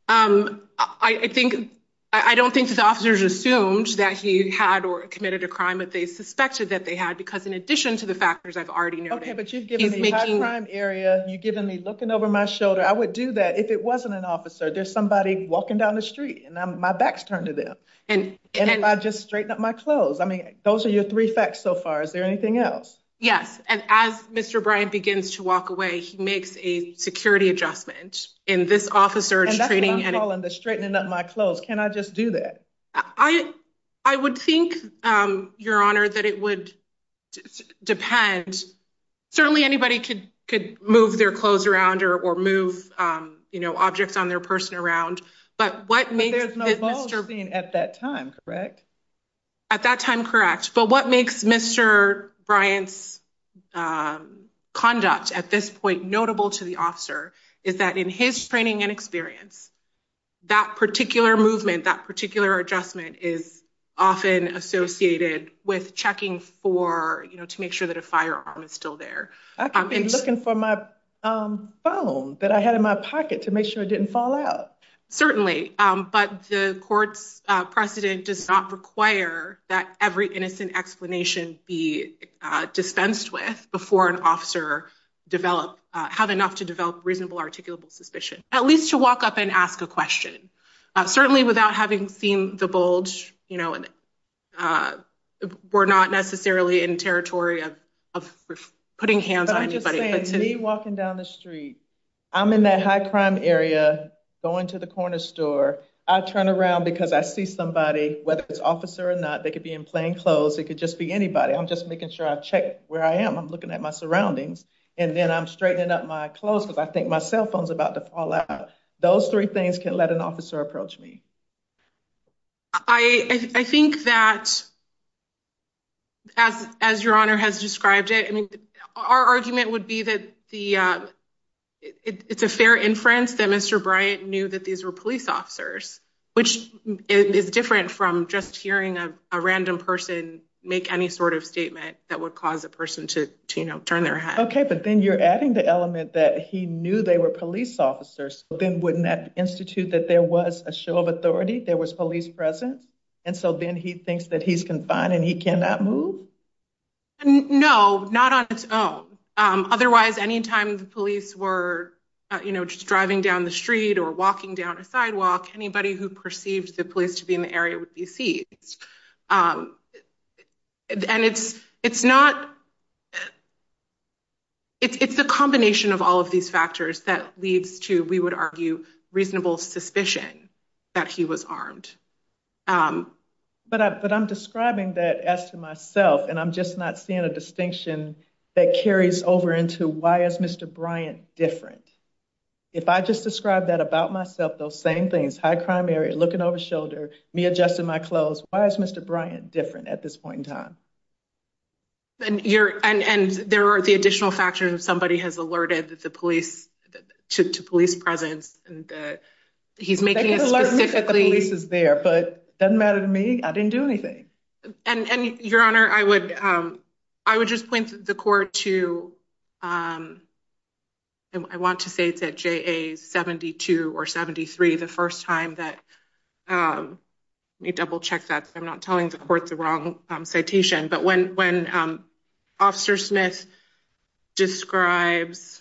um i think i don't think his officers assumed that he had or committed a crime but they suspected that they had because in addition to the factors i've already noted okay but you've given me a crime area you've given me looking over my shoulder i would do that if it wasn't an officer there's somebody walking down the street and i'm my backs turned to them and and i just straighten up my clothes i mean those are your three facts so far is there anything else yes and as mr bryant begins to walk away he makes a security adjustment in this officer and that's all in the straightening up my clothes can i just do that i i would think um your honor that it would depend certainly anybody could could move their clothes around or or move um you know objects on their person around but what makes there's no ballgame at that time correct at that time correct but what makes mr bryant's conduct at this point notable to the officer is that in his training and experience that particular movement that particular adjustment is often associated with checking for you know to make sure that a firearm is still there i've been looking for my phone that i had in my pocket to make sure it didn't fall out certainly um but the court precedent does not require that every innocent explanation be dispensed with before an officer develop have enough to develop reasonable articulable suspicion at least to walk up and ask a question certainly without having seen the bulge you know and uh we're not necessarily in territory of putting hands on anybody walking down the street i'm in that high crime area going to the corner store i turn around because i see somebody whether it's officer or not they could be in plain clothes it could just be anybody i'm just making sure i check where i am i'm looking at my surroundings and then i'm straightening up my clothes because i think my cell phone's about to fall out those three things can let an officer approach me i i think that as as your honor has described it i mean our argument would be that the uh it's a fair inference that mr bryant knew that these were police officers which is different from just hearing a random person make any sort of statement that would cause a person to you know turn their head okay but then you're adding the element that he knew they were police officers then wouldn't that institute that there was a show of authority there was police presence and so then he thinks that he's confined and he cannot move no not on his own um otherwise anytime the police were you know just driving down the street or walking down a sidewalk anybody who perceived the police to be in the area would be seized um and it's it's not it's a combination of all of these factors that leads to we would argue reasonable suspicion that he was armed um but i but i'm describing that as to myself and i'm just not seeing a why is mr bryant different if i just described that about myself those same things high crime area looking over shoulder me adjusting my clothes why is mr bryant different at this point in time and you're and and there are the additional factors somebody has alerted the police to police presence and he's making it there but it doesn't matter to me i didn't do anything and your honor i would um i would just point the court to um i want to say that ja 72 or 73 the first time that um let me double check that i'm not telling the court the wrong citation but when when um officer smith describes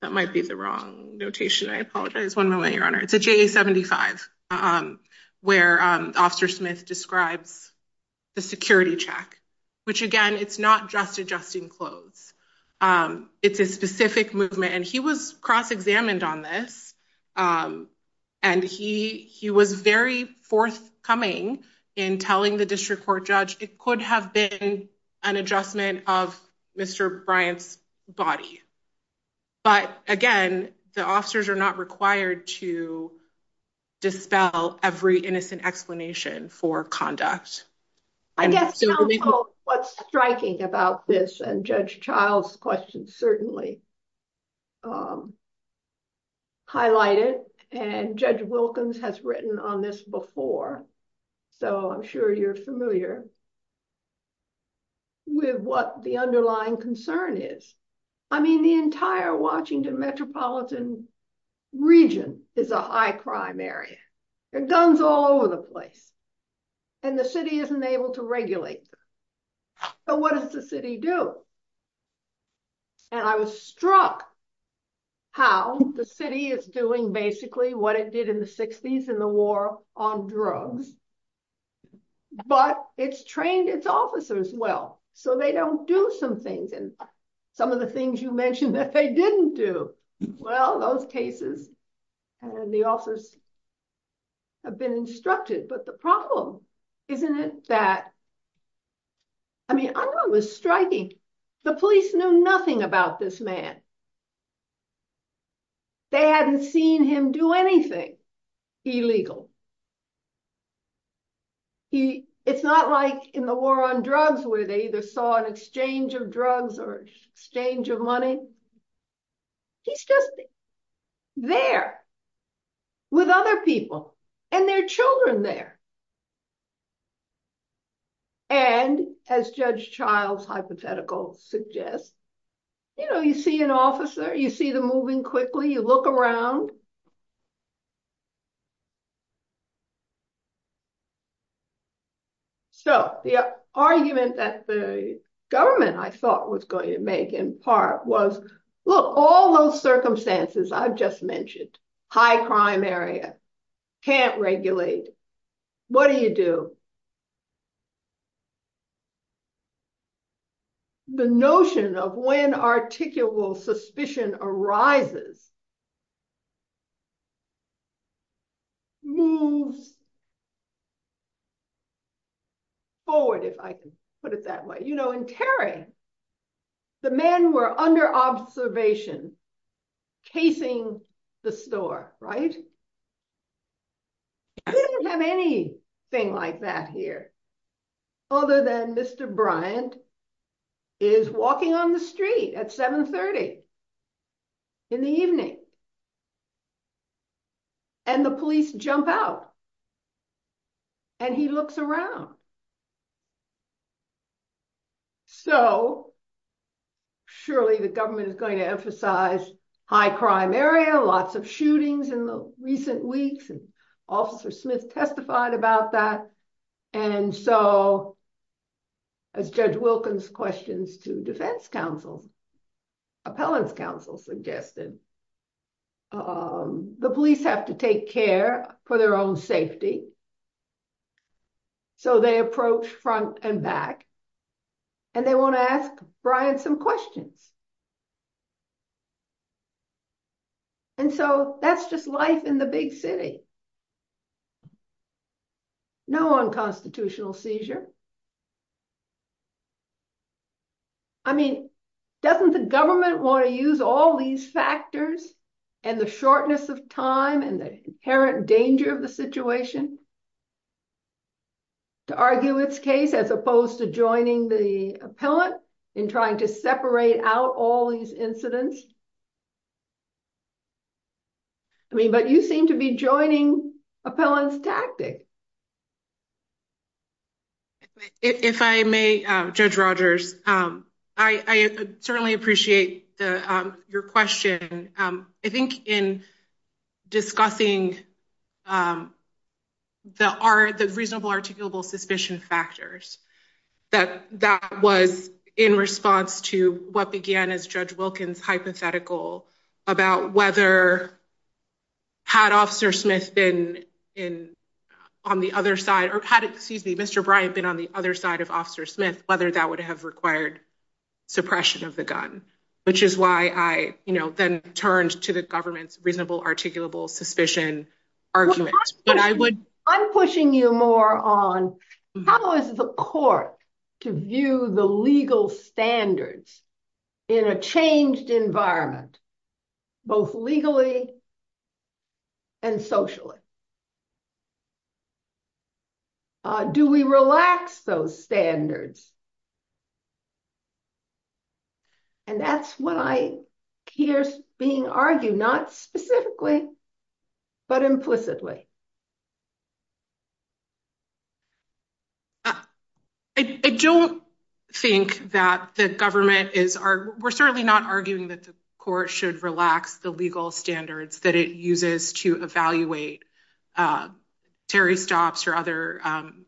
that might be the wrong notation i apologize one moment your honor it's a j 75 um where um officer smith describes the security check which again it's not just adjusting clothes um it's a specific movement and he was cross-examined on this um and he he was very forthcoming in telling the district court judge it could have been an adjustment of mr bryant's body but again the officers are not required to dispel every innocent explanation for conduct i guess what's striking about this and judge child's questions certainly um highlighted and judge wilkins has written on this before so i'm sure you're familiar with what the underlying concern is i mean the entire washington metropolitan region is a high crime area it comes all over the place and the city isn't able to regulate but what does the city do and i was struck how the city is doing basically what it did in the 60s in the war on drugs but it's trained its officers well so they don't do some things and some of the cases and the officers have been instructed but the problem isn't it that i mean i don't know it was striking the police knew nothing about this man they hadn't seen him do anything illegal he it's not like in the war on drugs where they either saw an exchange of drugs or exchange of money he's just there with other people and their children there and as judge child's hypothetical suggests you know you see an officer you see them moving quickly you look around so the argument that the government i thought was going to make in part was look all those circumstances i've just mentioned high crime area can't regulate what do you do the notion of when articulable suspicion arises moves forward if i could put it that way you know in paris the men were under observation casing the store right they don't have anything like that here other than mr bryant is walking on the street at 7 30 in the evening and the police jump out and he looks around so surely the government is going to emphasize high crime area lots of shootings in the recent weeks and officer smith testified about that and so as judge wilkins questions to defense council appellants council suggested um the police have to take care for their own safety so they approach front and back and they want to ask bryant some questions and so that's just life in the big city no unconstitutional seizure i mean doesn't the government want to use all these factors and the shortness of time and the inherent danger of the situation to argue its case as opposed to joining the appellant in trying to separate out all these incidents i mean but you seem to be joining appellants tactics if i may judge rogers um i i certainly appreciate the um your question um i think in discussing the are the reasonable articulable suspicion factors that that was in response to what began as judge wilkins hypothetical about whether had officer smith been in on the other side or had excuse me mr bryant been on the other side of officer smith whether that would have required suppression of the gun which is why i you know then turned to the government's reasonable articulable suspicion argument i'm pushing you more on how is the court to view the legal standards in a changed environment both legally and socially uh do we relax those standards and that's what i hear being argued not specifically but implicitly i don't think that the government is are we're certainly not arguing that the court should relax the legal standards that it uses to evaluate um terry stops or other um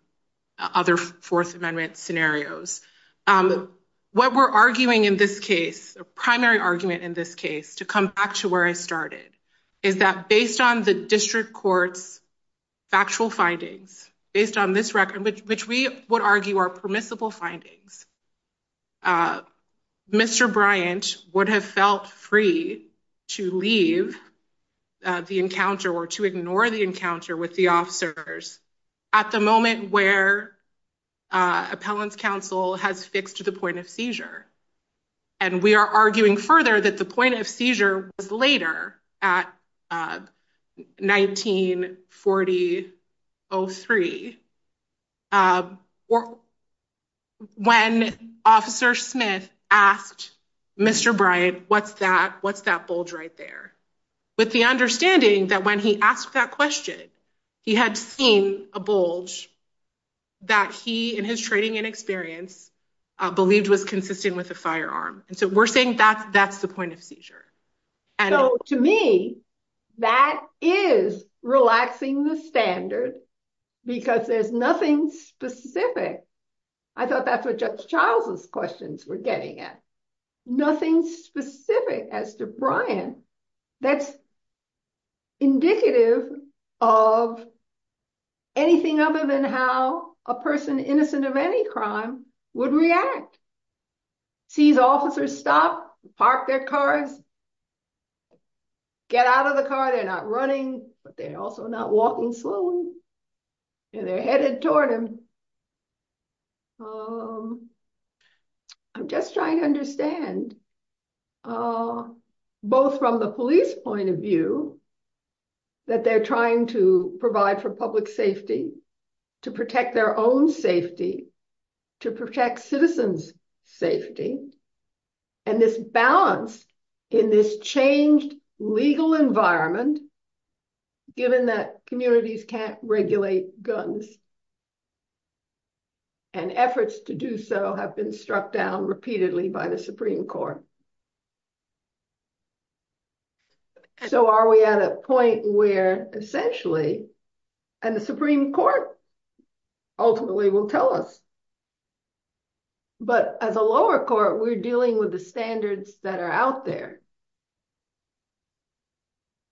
other fourth amendment scenarios um what we're arguing in this case a primary argument in this case to come back to where i started is that based on the district court's factual findings based on this record which we would argue are permissible findings uh mr bryant would have felt free to leave the encounter or to ignore the encounter with the officers at the moment where uh appellant counsel has fixed to the point of seizure and we are arguing further that the point of seizure was later at uh 1940 03 um or when officer smith asked mr bryant what's that what's that bulge right there with the understanding that when he asked that question he had seen a bulge that he and his training and experience uh believed was consistent with a firearm and so we're saying that that's point of seizure and so to me that is relaxing the standards because there's nothing specific i thought that's what just childless questions were getting at nothing specific as to brian that's indicative of anything other than how a person innocent of any crime would react sees officers stop park their car get out of the car they're not running but they're also not walking slowly and they're headed toward him um i'm just trying to understand uh both from the police point of view that they're trying to safety and this balance in this changed legal environment given that communities can't regulate guns and efforts to do so have been struck down repeatedly by the supreme court so are we at a point where essentially and the supreme court ultimately will tell us but as a lower court we're dealing with the standards that are out there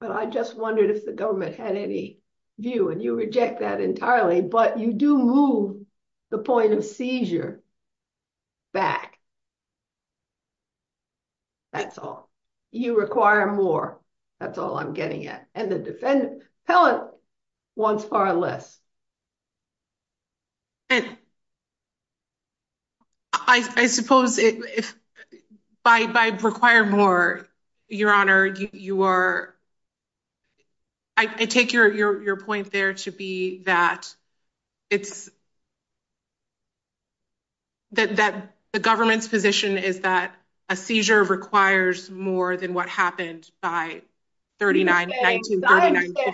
but i just wondered if the government had any view and you reject that entirely but you do move the point of seizure back that's all you require more that's all i'm getting at and the defendant pellet wants far less i i suppose it by by require more your honor you are i take your your point there to be that it's that that the government's position is that a seizure requires more than what happened by 39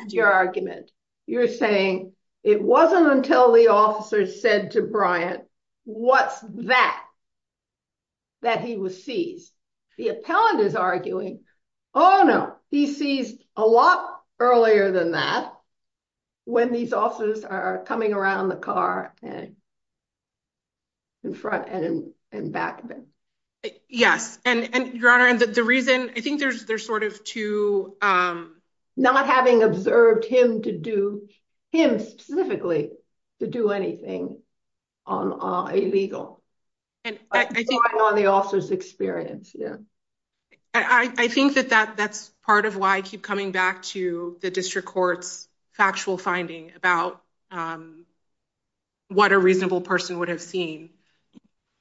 your argument you're saying it wasn't until the officer said to bryant what's that that he was seized the appellant is arguing oh no he sees a lot earlier than that when these officers are coming around the car and in front and and back of it yes and and your honor that the reason i think there's there's sort of two um not having observed him to do him specifically to do anything on uh illegal and i think on the officer's experience yeah i i think that that that's part of why i keep coming back to the district court's factual finding about um what a reasonable person would have seen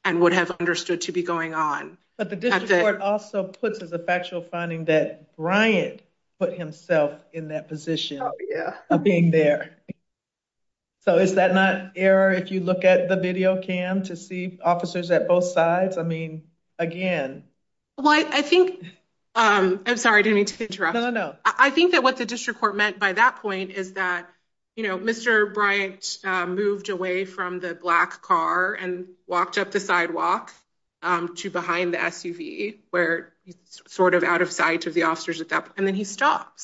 and would have understood to be going on but the district also puts as a factual finding that bryant put himself in that position yeah i'm being there so is that not error if you look at the video cam to see officers at both sides i mean again well i i think um i'm sorry i didn't need to interrupt no no i think that what the district court meant by that point is that you know mr bryant uh moved away from the black car and walked up the sidewalk um to behind the suv where he's sort of out of sight of the officers at that and then he stopped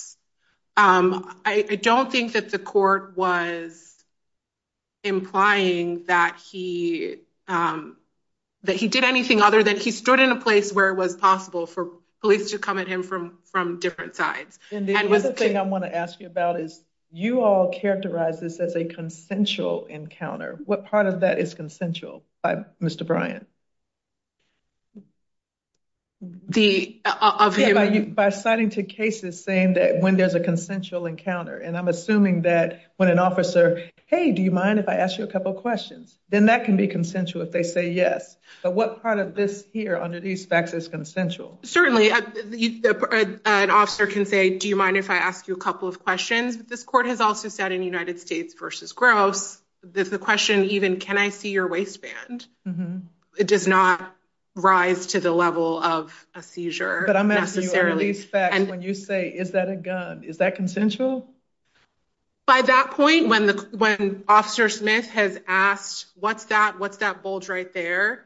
um i don't think that the court was implying that he um that he did anything other than he stood in a place where it was possible for police to come at him from from different sides and the other thing i want to ask you about is you all characterize this as a consensual encounter what part of that is consensual by mr bryant the by citing two cases saying that when there's a consensual encounter and i'm assuming that when an officer hey do you mind if i ask you a couple questions then that can be consensual if they say yes so what part of this here under these factors consensual certainly an officer can say do you mind if i ask you a couple of questions this court has also said in united states versus growth there's a question even can i see your waistband it does not rise to the level of a seizure but i'm asking you when you say is that a gun is that consensual by that point when the when officer smith has asked what's that what's that bulge right there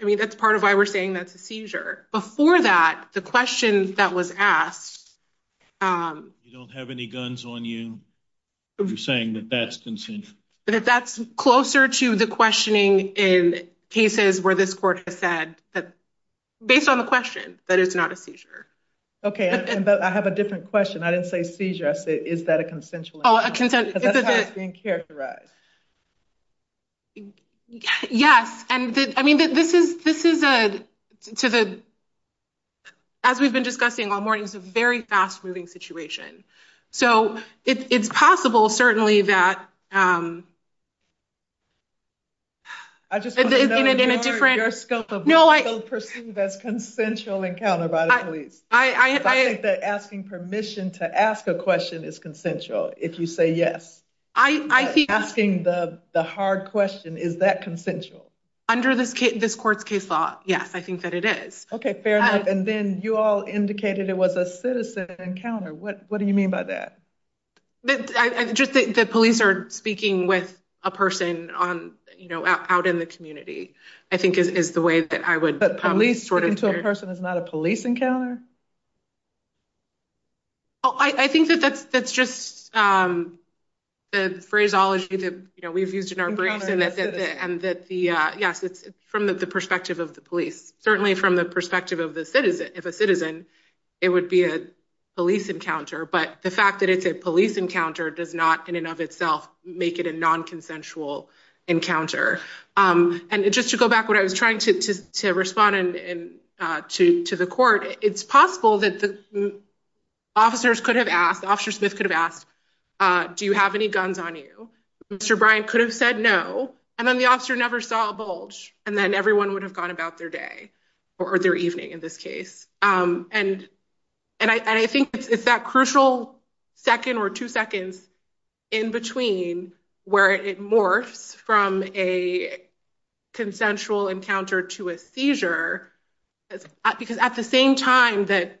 i mean that's part of why we're saying that's a seizure before that the questions that was asked um we don't have any guns on you you're saying that that's consensual but that's closer to the questioning in cases where this court has said that based on the question that it's not a seizure okay and i have a different question i didn't say seizure i say is that a consensual that's how it's being characterized yes and i mean this is this is a to the as we've been discussing all morning it's a very fast-moving situation so it's possible certainly that um i just in a different scope of no i don't perceive as consensual encounter by the police i i think that asking permission to ask a question is consensual if you say yes i i think asking the the hard question is that consensual under this this court's case law yes i think that it is okay fair enough and then you all indicated it was a citizen encounter what what do you mean by that this i just think the police are speaking with a person on you know out in the community i think it is the way that i would probably sort of person is not a police encounter oh i i think that that's that's just um the phraseology that you know we've used in our brain and that the uh yes it's from the perspective of the police certainly from the perspective of the citizen if a citizen it would be a police encounter but the fact that it's a police encounter does not in and of itself make it a non-consensual encounter um and just to go back i was trying to to respond and uh to to the court it's possible that the officers could have asked officer smith could have asked uh do you have any guns on you mr brian could have said no and then the officer never saw a bulge and then everyone would have gone about their day or their evening in this case um and and i i think it's that crucial second or two seconds in between where it morphs from a consensual encounter to a seizure because at the same time that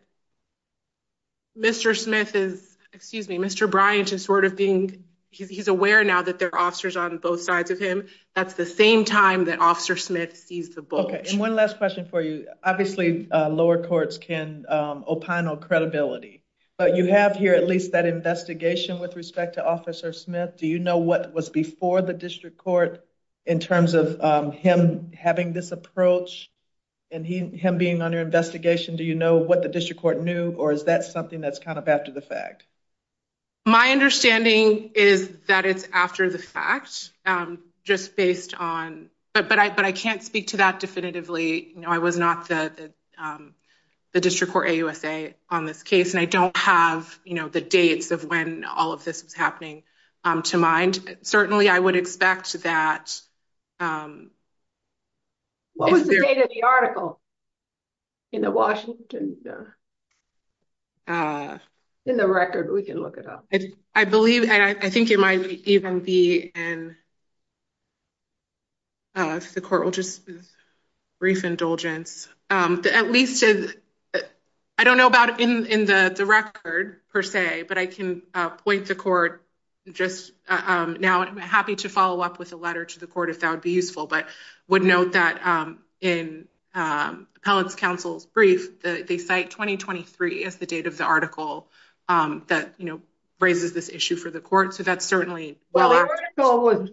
mr smith is excuse me mr bryant is sort of being he's aware now that there are officers on both sides of him that's the same time that officer smith sees the bulge and one last question for you obviously uh lower courts can um opine on credibility but you have here at least that for the district court in terms of um him having this approach and he him being under investigation do you know what the district court knew or is that something that's kind of after the fact my understanding is that it's after the fact um just based on but but i but i can't speak to that definitively you know i was not the um the district court ausa on this case and i don't have you know the dates of when all of this is happening um to mind certainly i would expect that um what was the date of the article in the washington uh in the record we can look it up i believe i think it might even be in uh the court will just brief indulgence um at least but i don't know about in in the record per se but i can uh point the court just um now i'm happy to follow up with a letter to the court if that would be useful but would note that um in um palace council brief that they cite 2023 as the date of the article um that you know raises this issue for the court so that's certainly well article was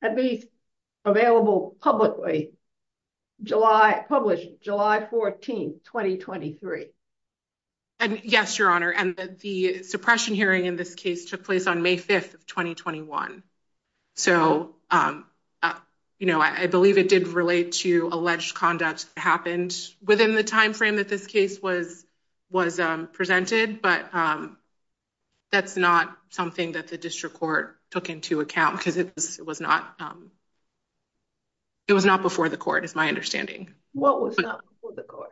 at least available publicly july published july 14th 2023 and yes your honor and the suppression hearing in this case took place on may 5th of 2021 so um you know i believe it did relate to alleged conduct happened within the time frame that this case was was um presented but um that's not something that the district court took into account because it was not um it was not before the court is my understanding what was not before the court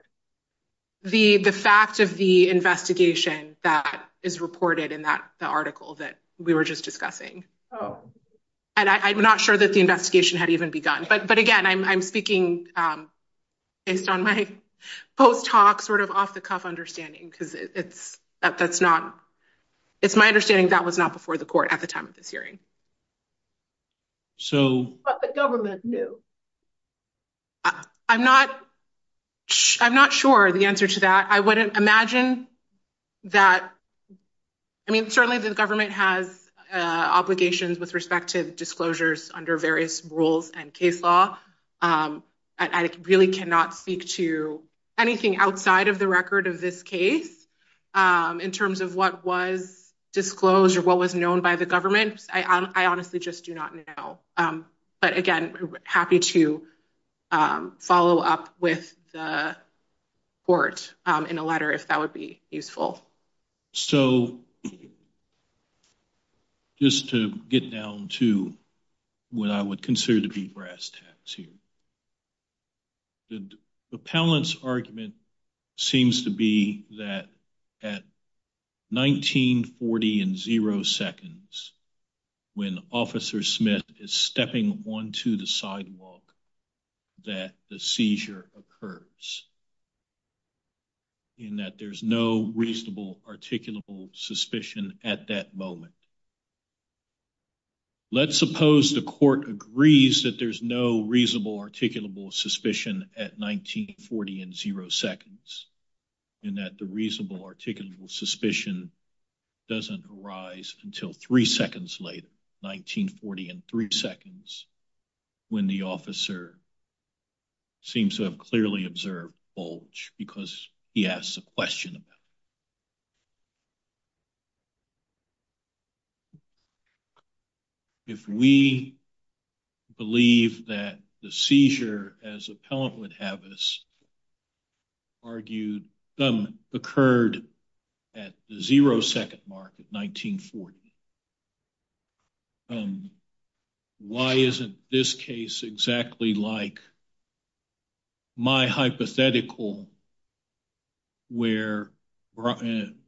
the the fact of the investigation that is reported in that the article that we were just discussing oh and i'm not sure that the investigation had even begun but again i'm speaking um based on my post-talk sort of off-the-cuff understanding because it's that that's not it's my understanding that was not before the court at the time of this hearing so what the government knew i'm not i'm not sure the answer to that i wouldn't imagine that i mean certainly the government has uh obligations with respect to disclosures under various rules and case law um i really cannot speak to anything outside of the record of this case um in terms of what was disclosed or what was known by the government i honestly just do not know um but again happy to um follow up with the court um in a letter if that would be useful so just to get down to what i would consider to be brass tacks here the appellant's argument seems to be that at 1940 and zero seconds when officer smith is stepping onto the sidewalk that the seizure occurs in that there's no reasonable articulable suspicion at that moment let's suppose the court agrees that there's no reasonable articulable suspicion at 1940 and zero seconds and that the reasonable articulable suspicion doesn't arise until three seconds later 1940 and three seconds when the officer seems to have clearly observed bulge because he asked the question if we believe that the seizure as appellant would have us argued some occurred at the zero second mark at 1940 um why isn't this case exactly like my hypothetical where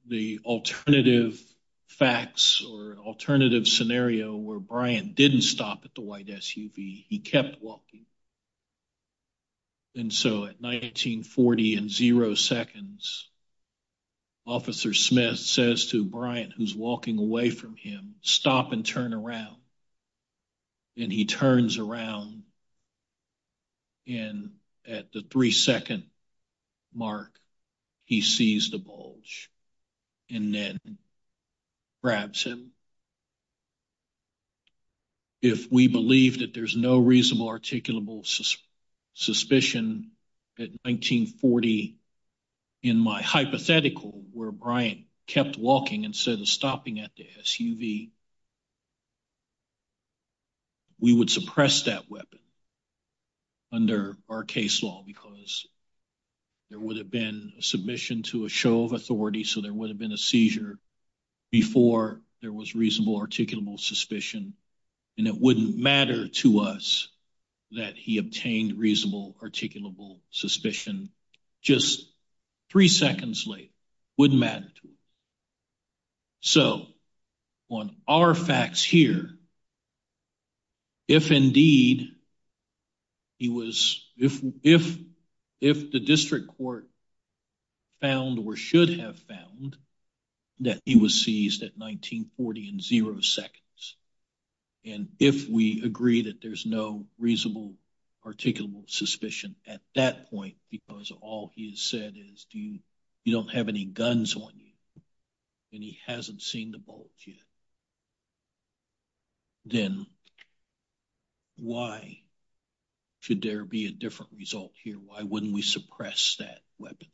the alternative facts or alternative scenario where brian didn't stop at the white suv he kept walking and so at 1940 and zero seconds officer smith says to brian who's walking away from him stop and turn around and he turns around and at the three second mark he sees the bulge and then grabs him if we believe that there's no reasonable articulable suspicion at 1940 in my hypothetical where brian kept walking instead of stopping at the suv we would suppress that weapon under our case law because there would have been a submission to a authority so there would have been a seizure before there was reasonable articulable suspicion and it wouldn't matter to us that he obtained reasonable articulable suspicion just three seconds late wouldn't matter to us so on our facts here if indeed he was if if if the district court found or should have found that he was seized at 1940 in zero seconds and if we agree that there's no reasonable articulable suspicion at that point because all he has said is do you you don't have any guns on you and he hasn't seen the bulge yet then why should there be a different result here why wouldn't we suppress that weapon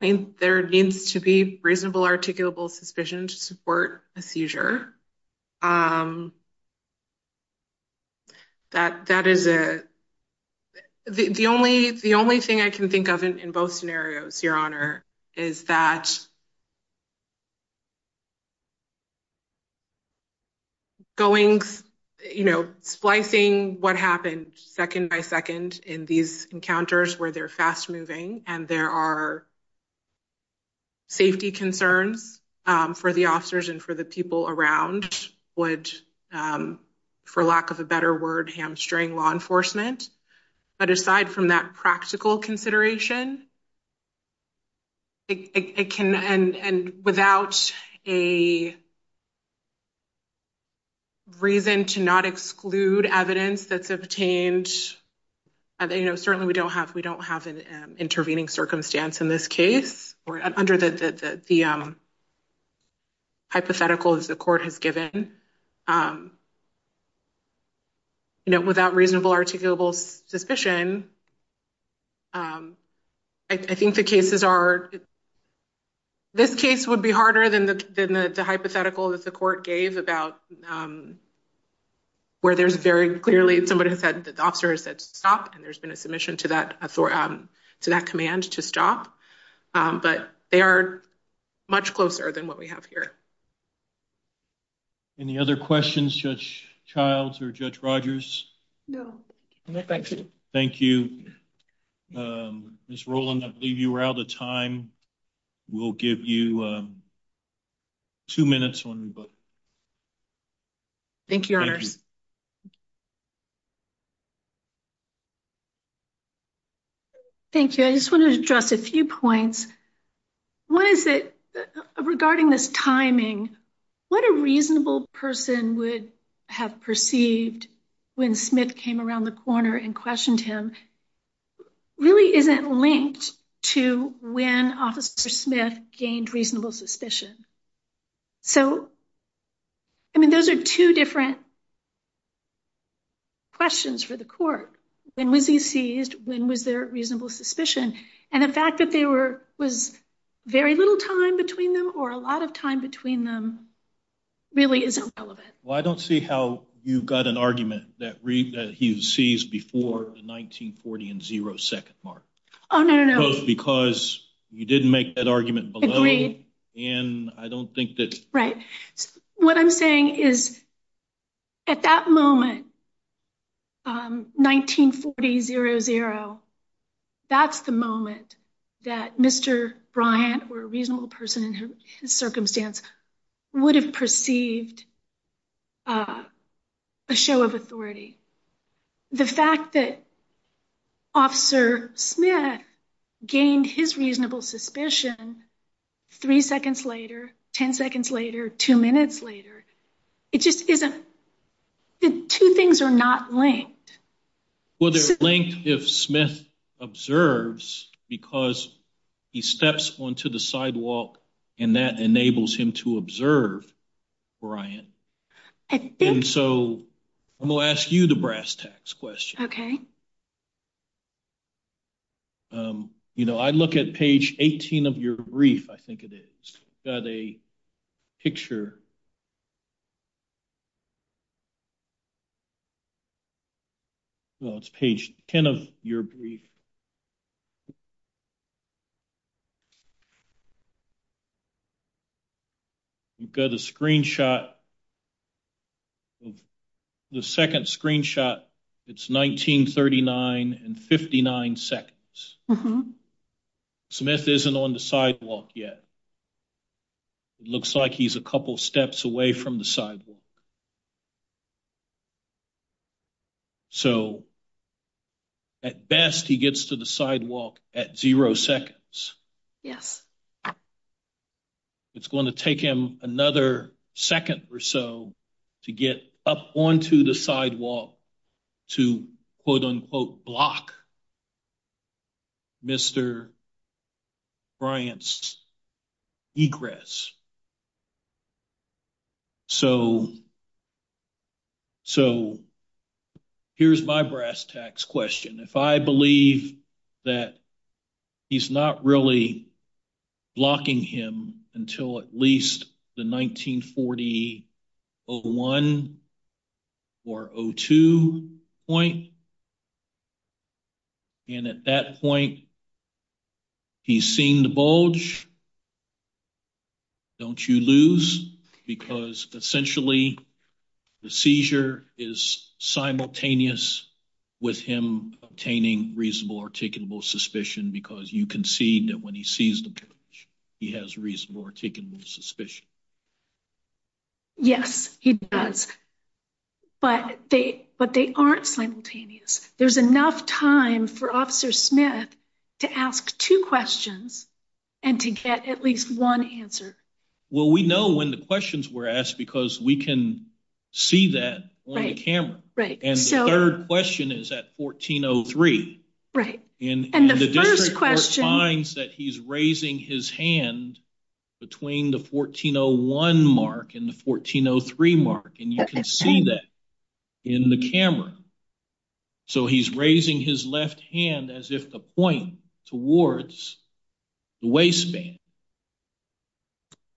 i think there needs to be reasonable articulable suspicion to support a seizure um that that is a the only the only thing i can think of in both scenarios your honor is that going you know splicing what happened second by second in these encounters where they're there are safety concerns um for the officers and for the people around would um for lack of a better word hamstring law enforcement but aside from that practical consideration it can and and without a reason to not exclude evidence that's obtained and you know certainly we don't have we don't have an intervening circumstance in this case or under the the hypotheticals the court has given um you know without reasonable articulable suspicion um i think the cases are this case would be harder than the than the hypothetical that the court gave about um where there's very clearly somebody who said the officer said stop and there's been a submission to that to that command to stop but they are much closer than what we have here any other questions judge childs or judge rogers no no thank you thank you miss roland i believe you were out of time we'll give you two minutes but thank you thank you i just wanted to address a few points one is that regarding this timing what a reasonable person would have perceived when smith came around the corner and questioned him really isn't linked to when officer smith gained reasonable suspicion so i mean those are two different questions for the court when was he seized when was there reasonable suspicion and the fact that there were was very little time between them or a lot of time between them really isn't relevant well i don't see how you got an argument that read that he seized before the 1940 and zero second mark oh no no because you didn't make that argument and i don't think that's right what i'm saying is at that moment um 1940 zero zero that's the moment that mr bryant or a reasonable person in his circumstance would have perceived uh a show of authority the fact that officer smith gained his reasonable suspicion three seconds later 10 seconds later two minutes later it just isn't the two things are not linked well they're linked if smith observes because he steps onto the sidewalk and that enables him to and so i'm going to ask you the brass tacks question okay um you know i look at page 18 of your brief i think it is got a picture well it's page 10 of your brief so you've got a screenshot the second screenshot it's 1939 and 59 seconds smith isn't on the sidewalk yet it looks like he's a couple steps away from the sidewalk so at best he gets to the sidewalk at zero seconds yes it's going to take him another second or so to get up onto the sidewalk to quote unquote block mr bryant's egress so so here's my brass tacks question if i believe that he's not really blocking him until at least the 1940 01 or 02 point and at that point he's seeing the bulge don't you lose because essentially the seizure is simultaneous with him obtaining reasonable articulable suspicion because you can see that when he sees the bridge he has reasonable articulable suspicion yes he does but they but they aren't simultaneous there's enough time for officer smith to ask two questions and to get at least one answer well we know when the questions were asked because we can see that right camera right and the third question is at 1403 right and the first question finds that he's raising his hand between the 1401 mark and the hand as if the point towards the way span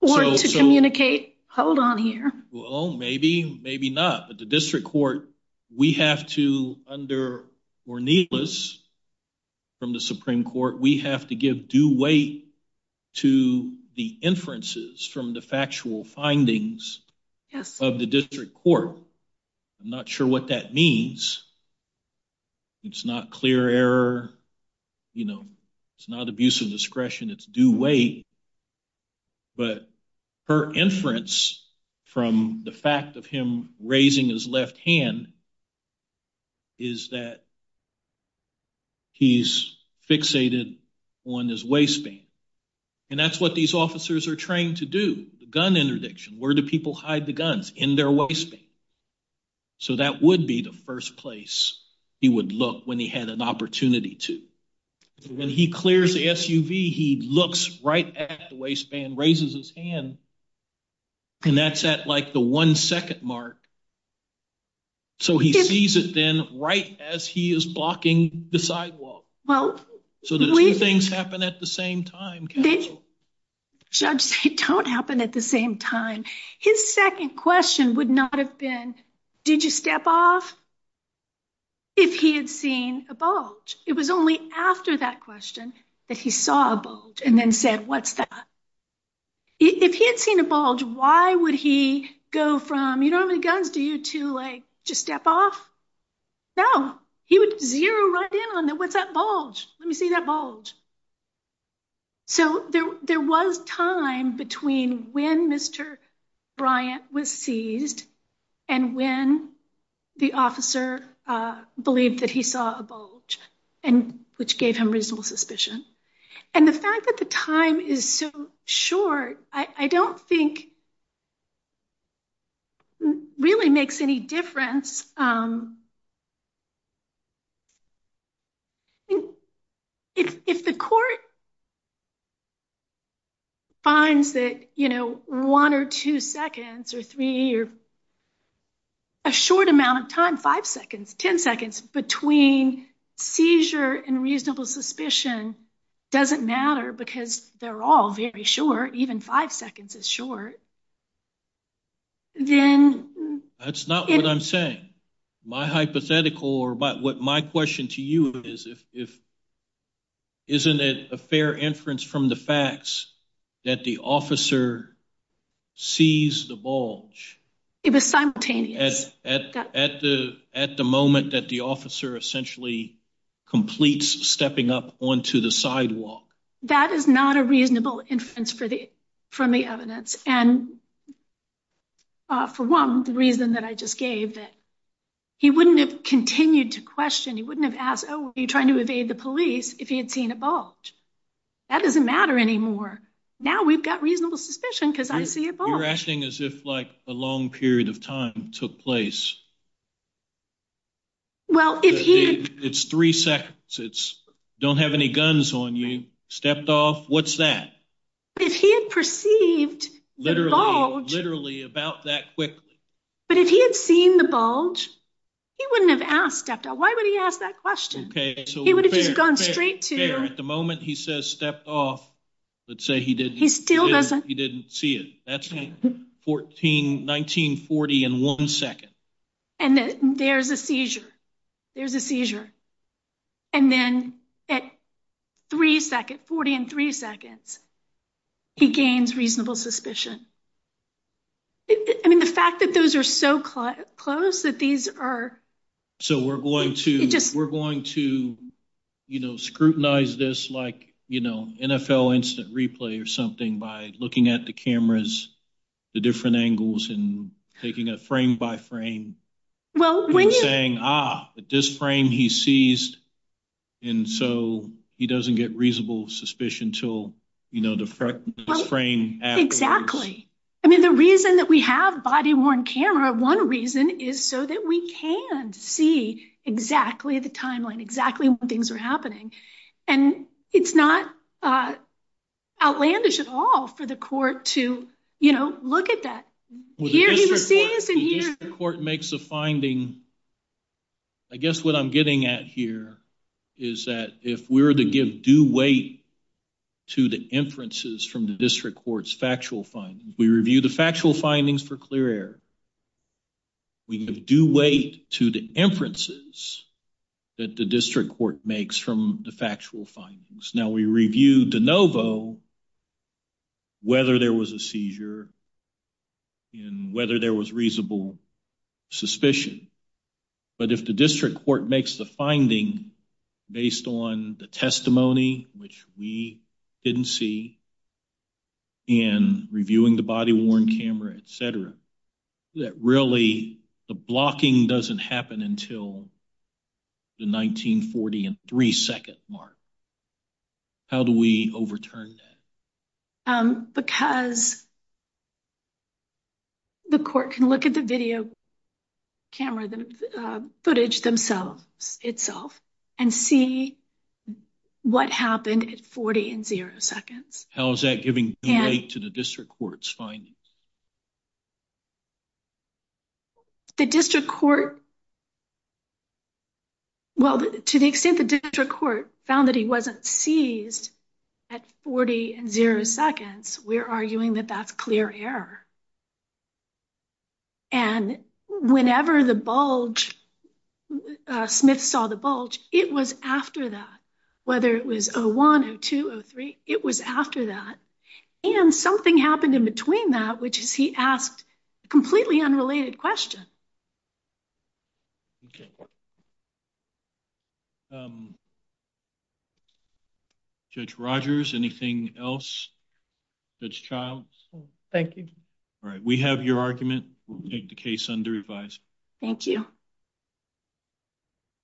or to communicate hold on here well maybe maybe not but the district court we have to under or needless from the supreme court we have to give due weight to the inferences from the factual findings of the district court i'm not sure what that means it's not clear error you know it's not abuse of discretion it's due weight but her inference from the fact of him raising his left hand is that he's fixated on his waistband and that's what these officers are trained to do gun interdiction where do people hide the guns in their waist so that would be the first place he would look when he had an opportunity to when he clears the suv he looks right at the waistband raises his hand and that's at like the one second mark so he sees it then right as he is blocking the sidewalk well so the three things happen at the same time judge they don't happen at the same time his second question would not have been did you step off if he had seen a bulge it was only after that question that he saw a bulge and then said what's that if he had seen a bulge why would he go from you don't have any guns do you to like just step off no he would zero right down with that bulge let me see that bulge so there there was time between when mr bryant was seized and when the officer uh believed that he saw a bulge and which gave him reasonable suspicion and the fact that the time is so short i i don't think really makes any difference um if if the court finds that you know one or two seconds or three or a short amount of time five seconds ten seconds between seizure and reasonable suspicion doesn't matter because they're all very short even five seconds is short then that's not what i'm saying my hypothetical or but what my question to you is if if isn't it a fair inference from the facts that the officer sees the bulge it was simultaneous at the at the moment that the officer essentially completes stepping up onto the sidewalk that is not a reasonable inference for the from the evidence and uh for one reason that i just gave that he wouldn't have continued to question he wouldn't have asked oh were you trying to evade the police if he had seen a bulge that doesn't matter anymore now we've got reasonable suspicion because i see you're acting as if like a long period of time took place well if he it's three seconds it's don't have any guns on you stepped off what's that if he had perceived literally literally about that quickly but if he had seen the bulge he wouldn't have asked after why would he ask that question okay he would have gone at the moment he says stepped off let's say he didn't he still doesn't he didn't see it that's 14 1940 in one second and then there's a seizure there's a seizure and then at three seconds 40 and three seconds he gains reasonable suspicion i mean the fact that those are so close that these are so we're going to we're going to you know scrutinize this like you know nfl instant replay or something by looking at the cameras the different angles and taking a frame by frame well when you're saying ah this frame he sees and so he doesn't get reasonable suspicion to you know the frame exactly i mean the reason that we have body-worn camera one reason is so that we can see exactly the timeline exactly what things are happening and it's not uh outlandish at all for the court to you know look at that court makes the finding i guess what i'm getting at here is that if we're to give due weight to the inferences from the district court's factual findings we review the factual findings for clear air we do wait to the inferences that the district court makes from the factual findings now we review de novo whether there was a seizure and whether there was reasonable suspicion but if the district court makes the finding based on the testimony which we didn't see in reviewing the body-worn camera etc that really the blocking doesn't happen until the 1940 and three second mark how do we overturn that um because if the court can look at the video camera the footage themselves itself and see what happened at 40 and zero seconds how is that giving due weight to the district court's findings the district court well to the extent the district court found that he wasn't seized at 40 and zero seconds we're arguing that that's clear error and whenever the bulge smith saw the bulge it was after that whether it was oh one oh two oh three it was after that and something happened in between that which is he asked completely unrelated questions okay um judge rogers anything else that's child thank you all right we have your argument we'll take the case under revised thank you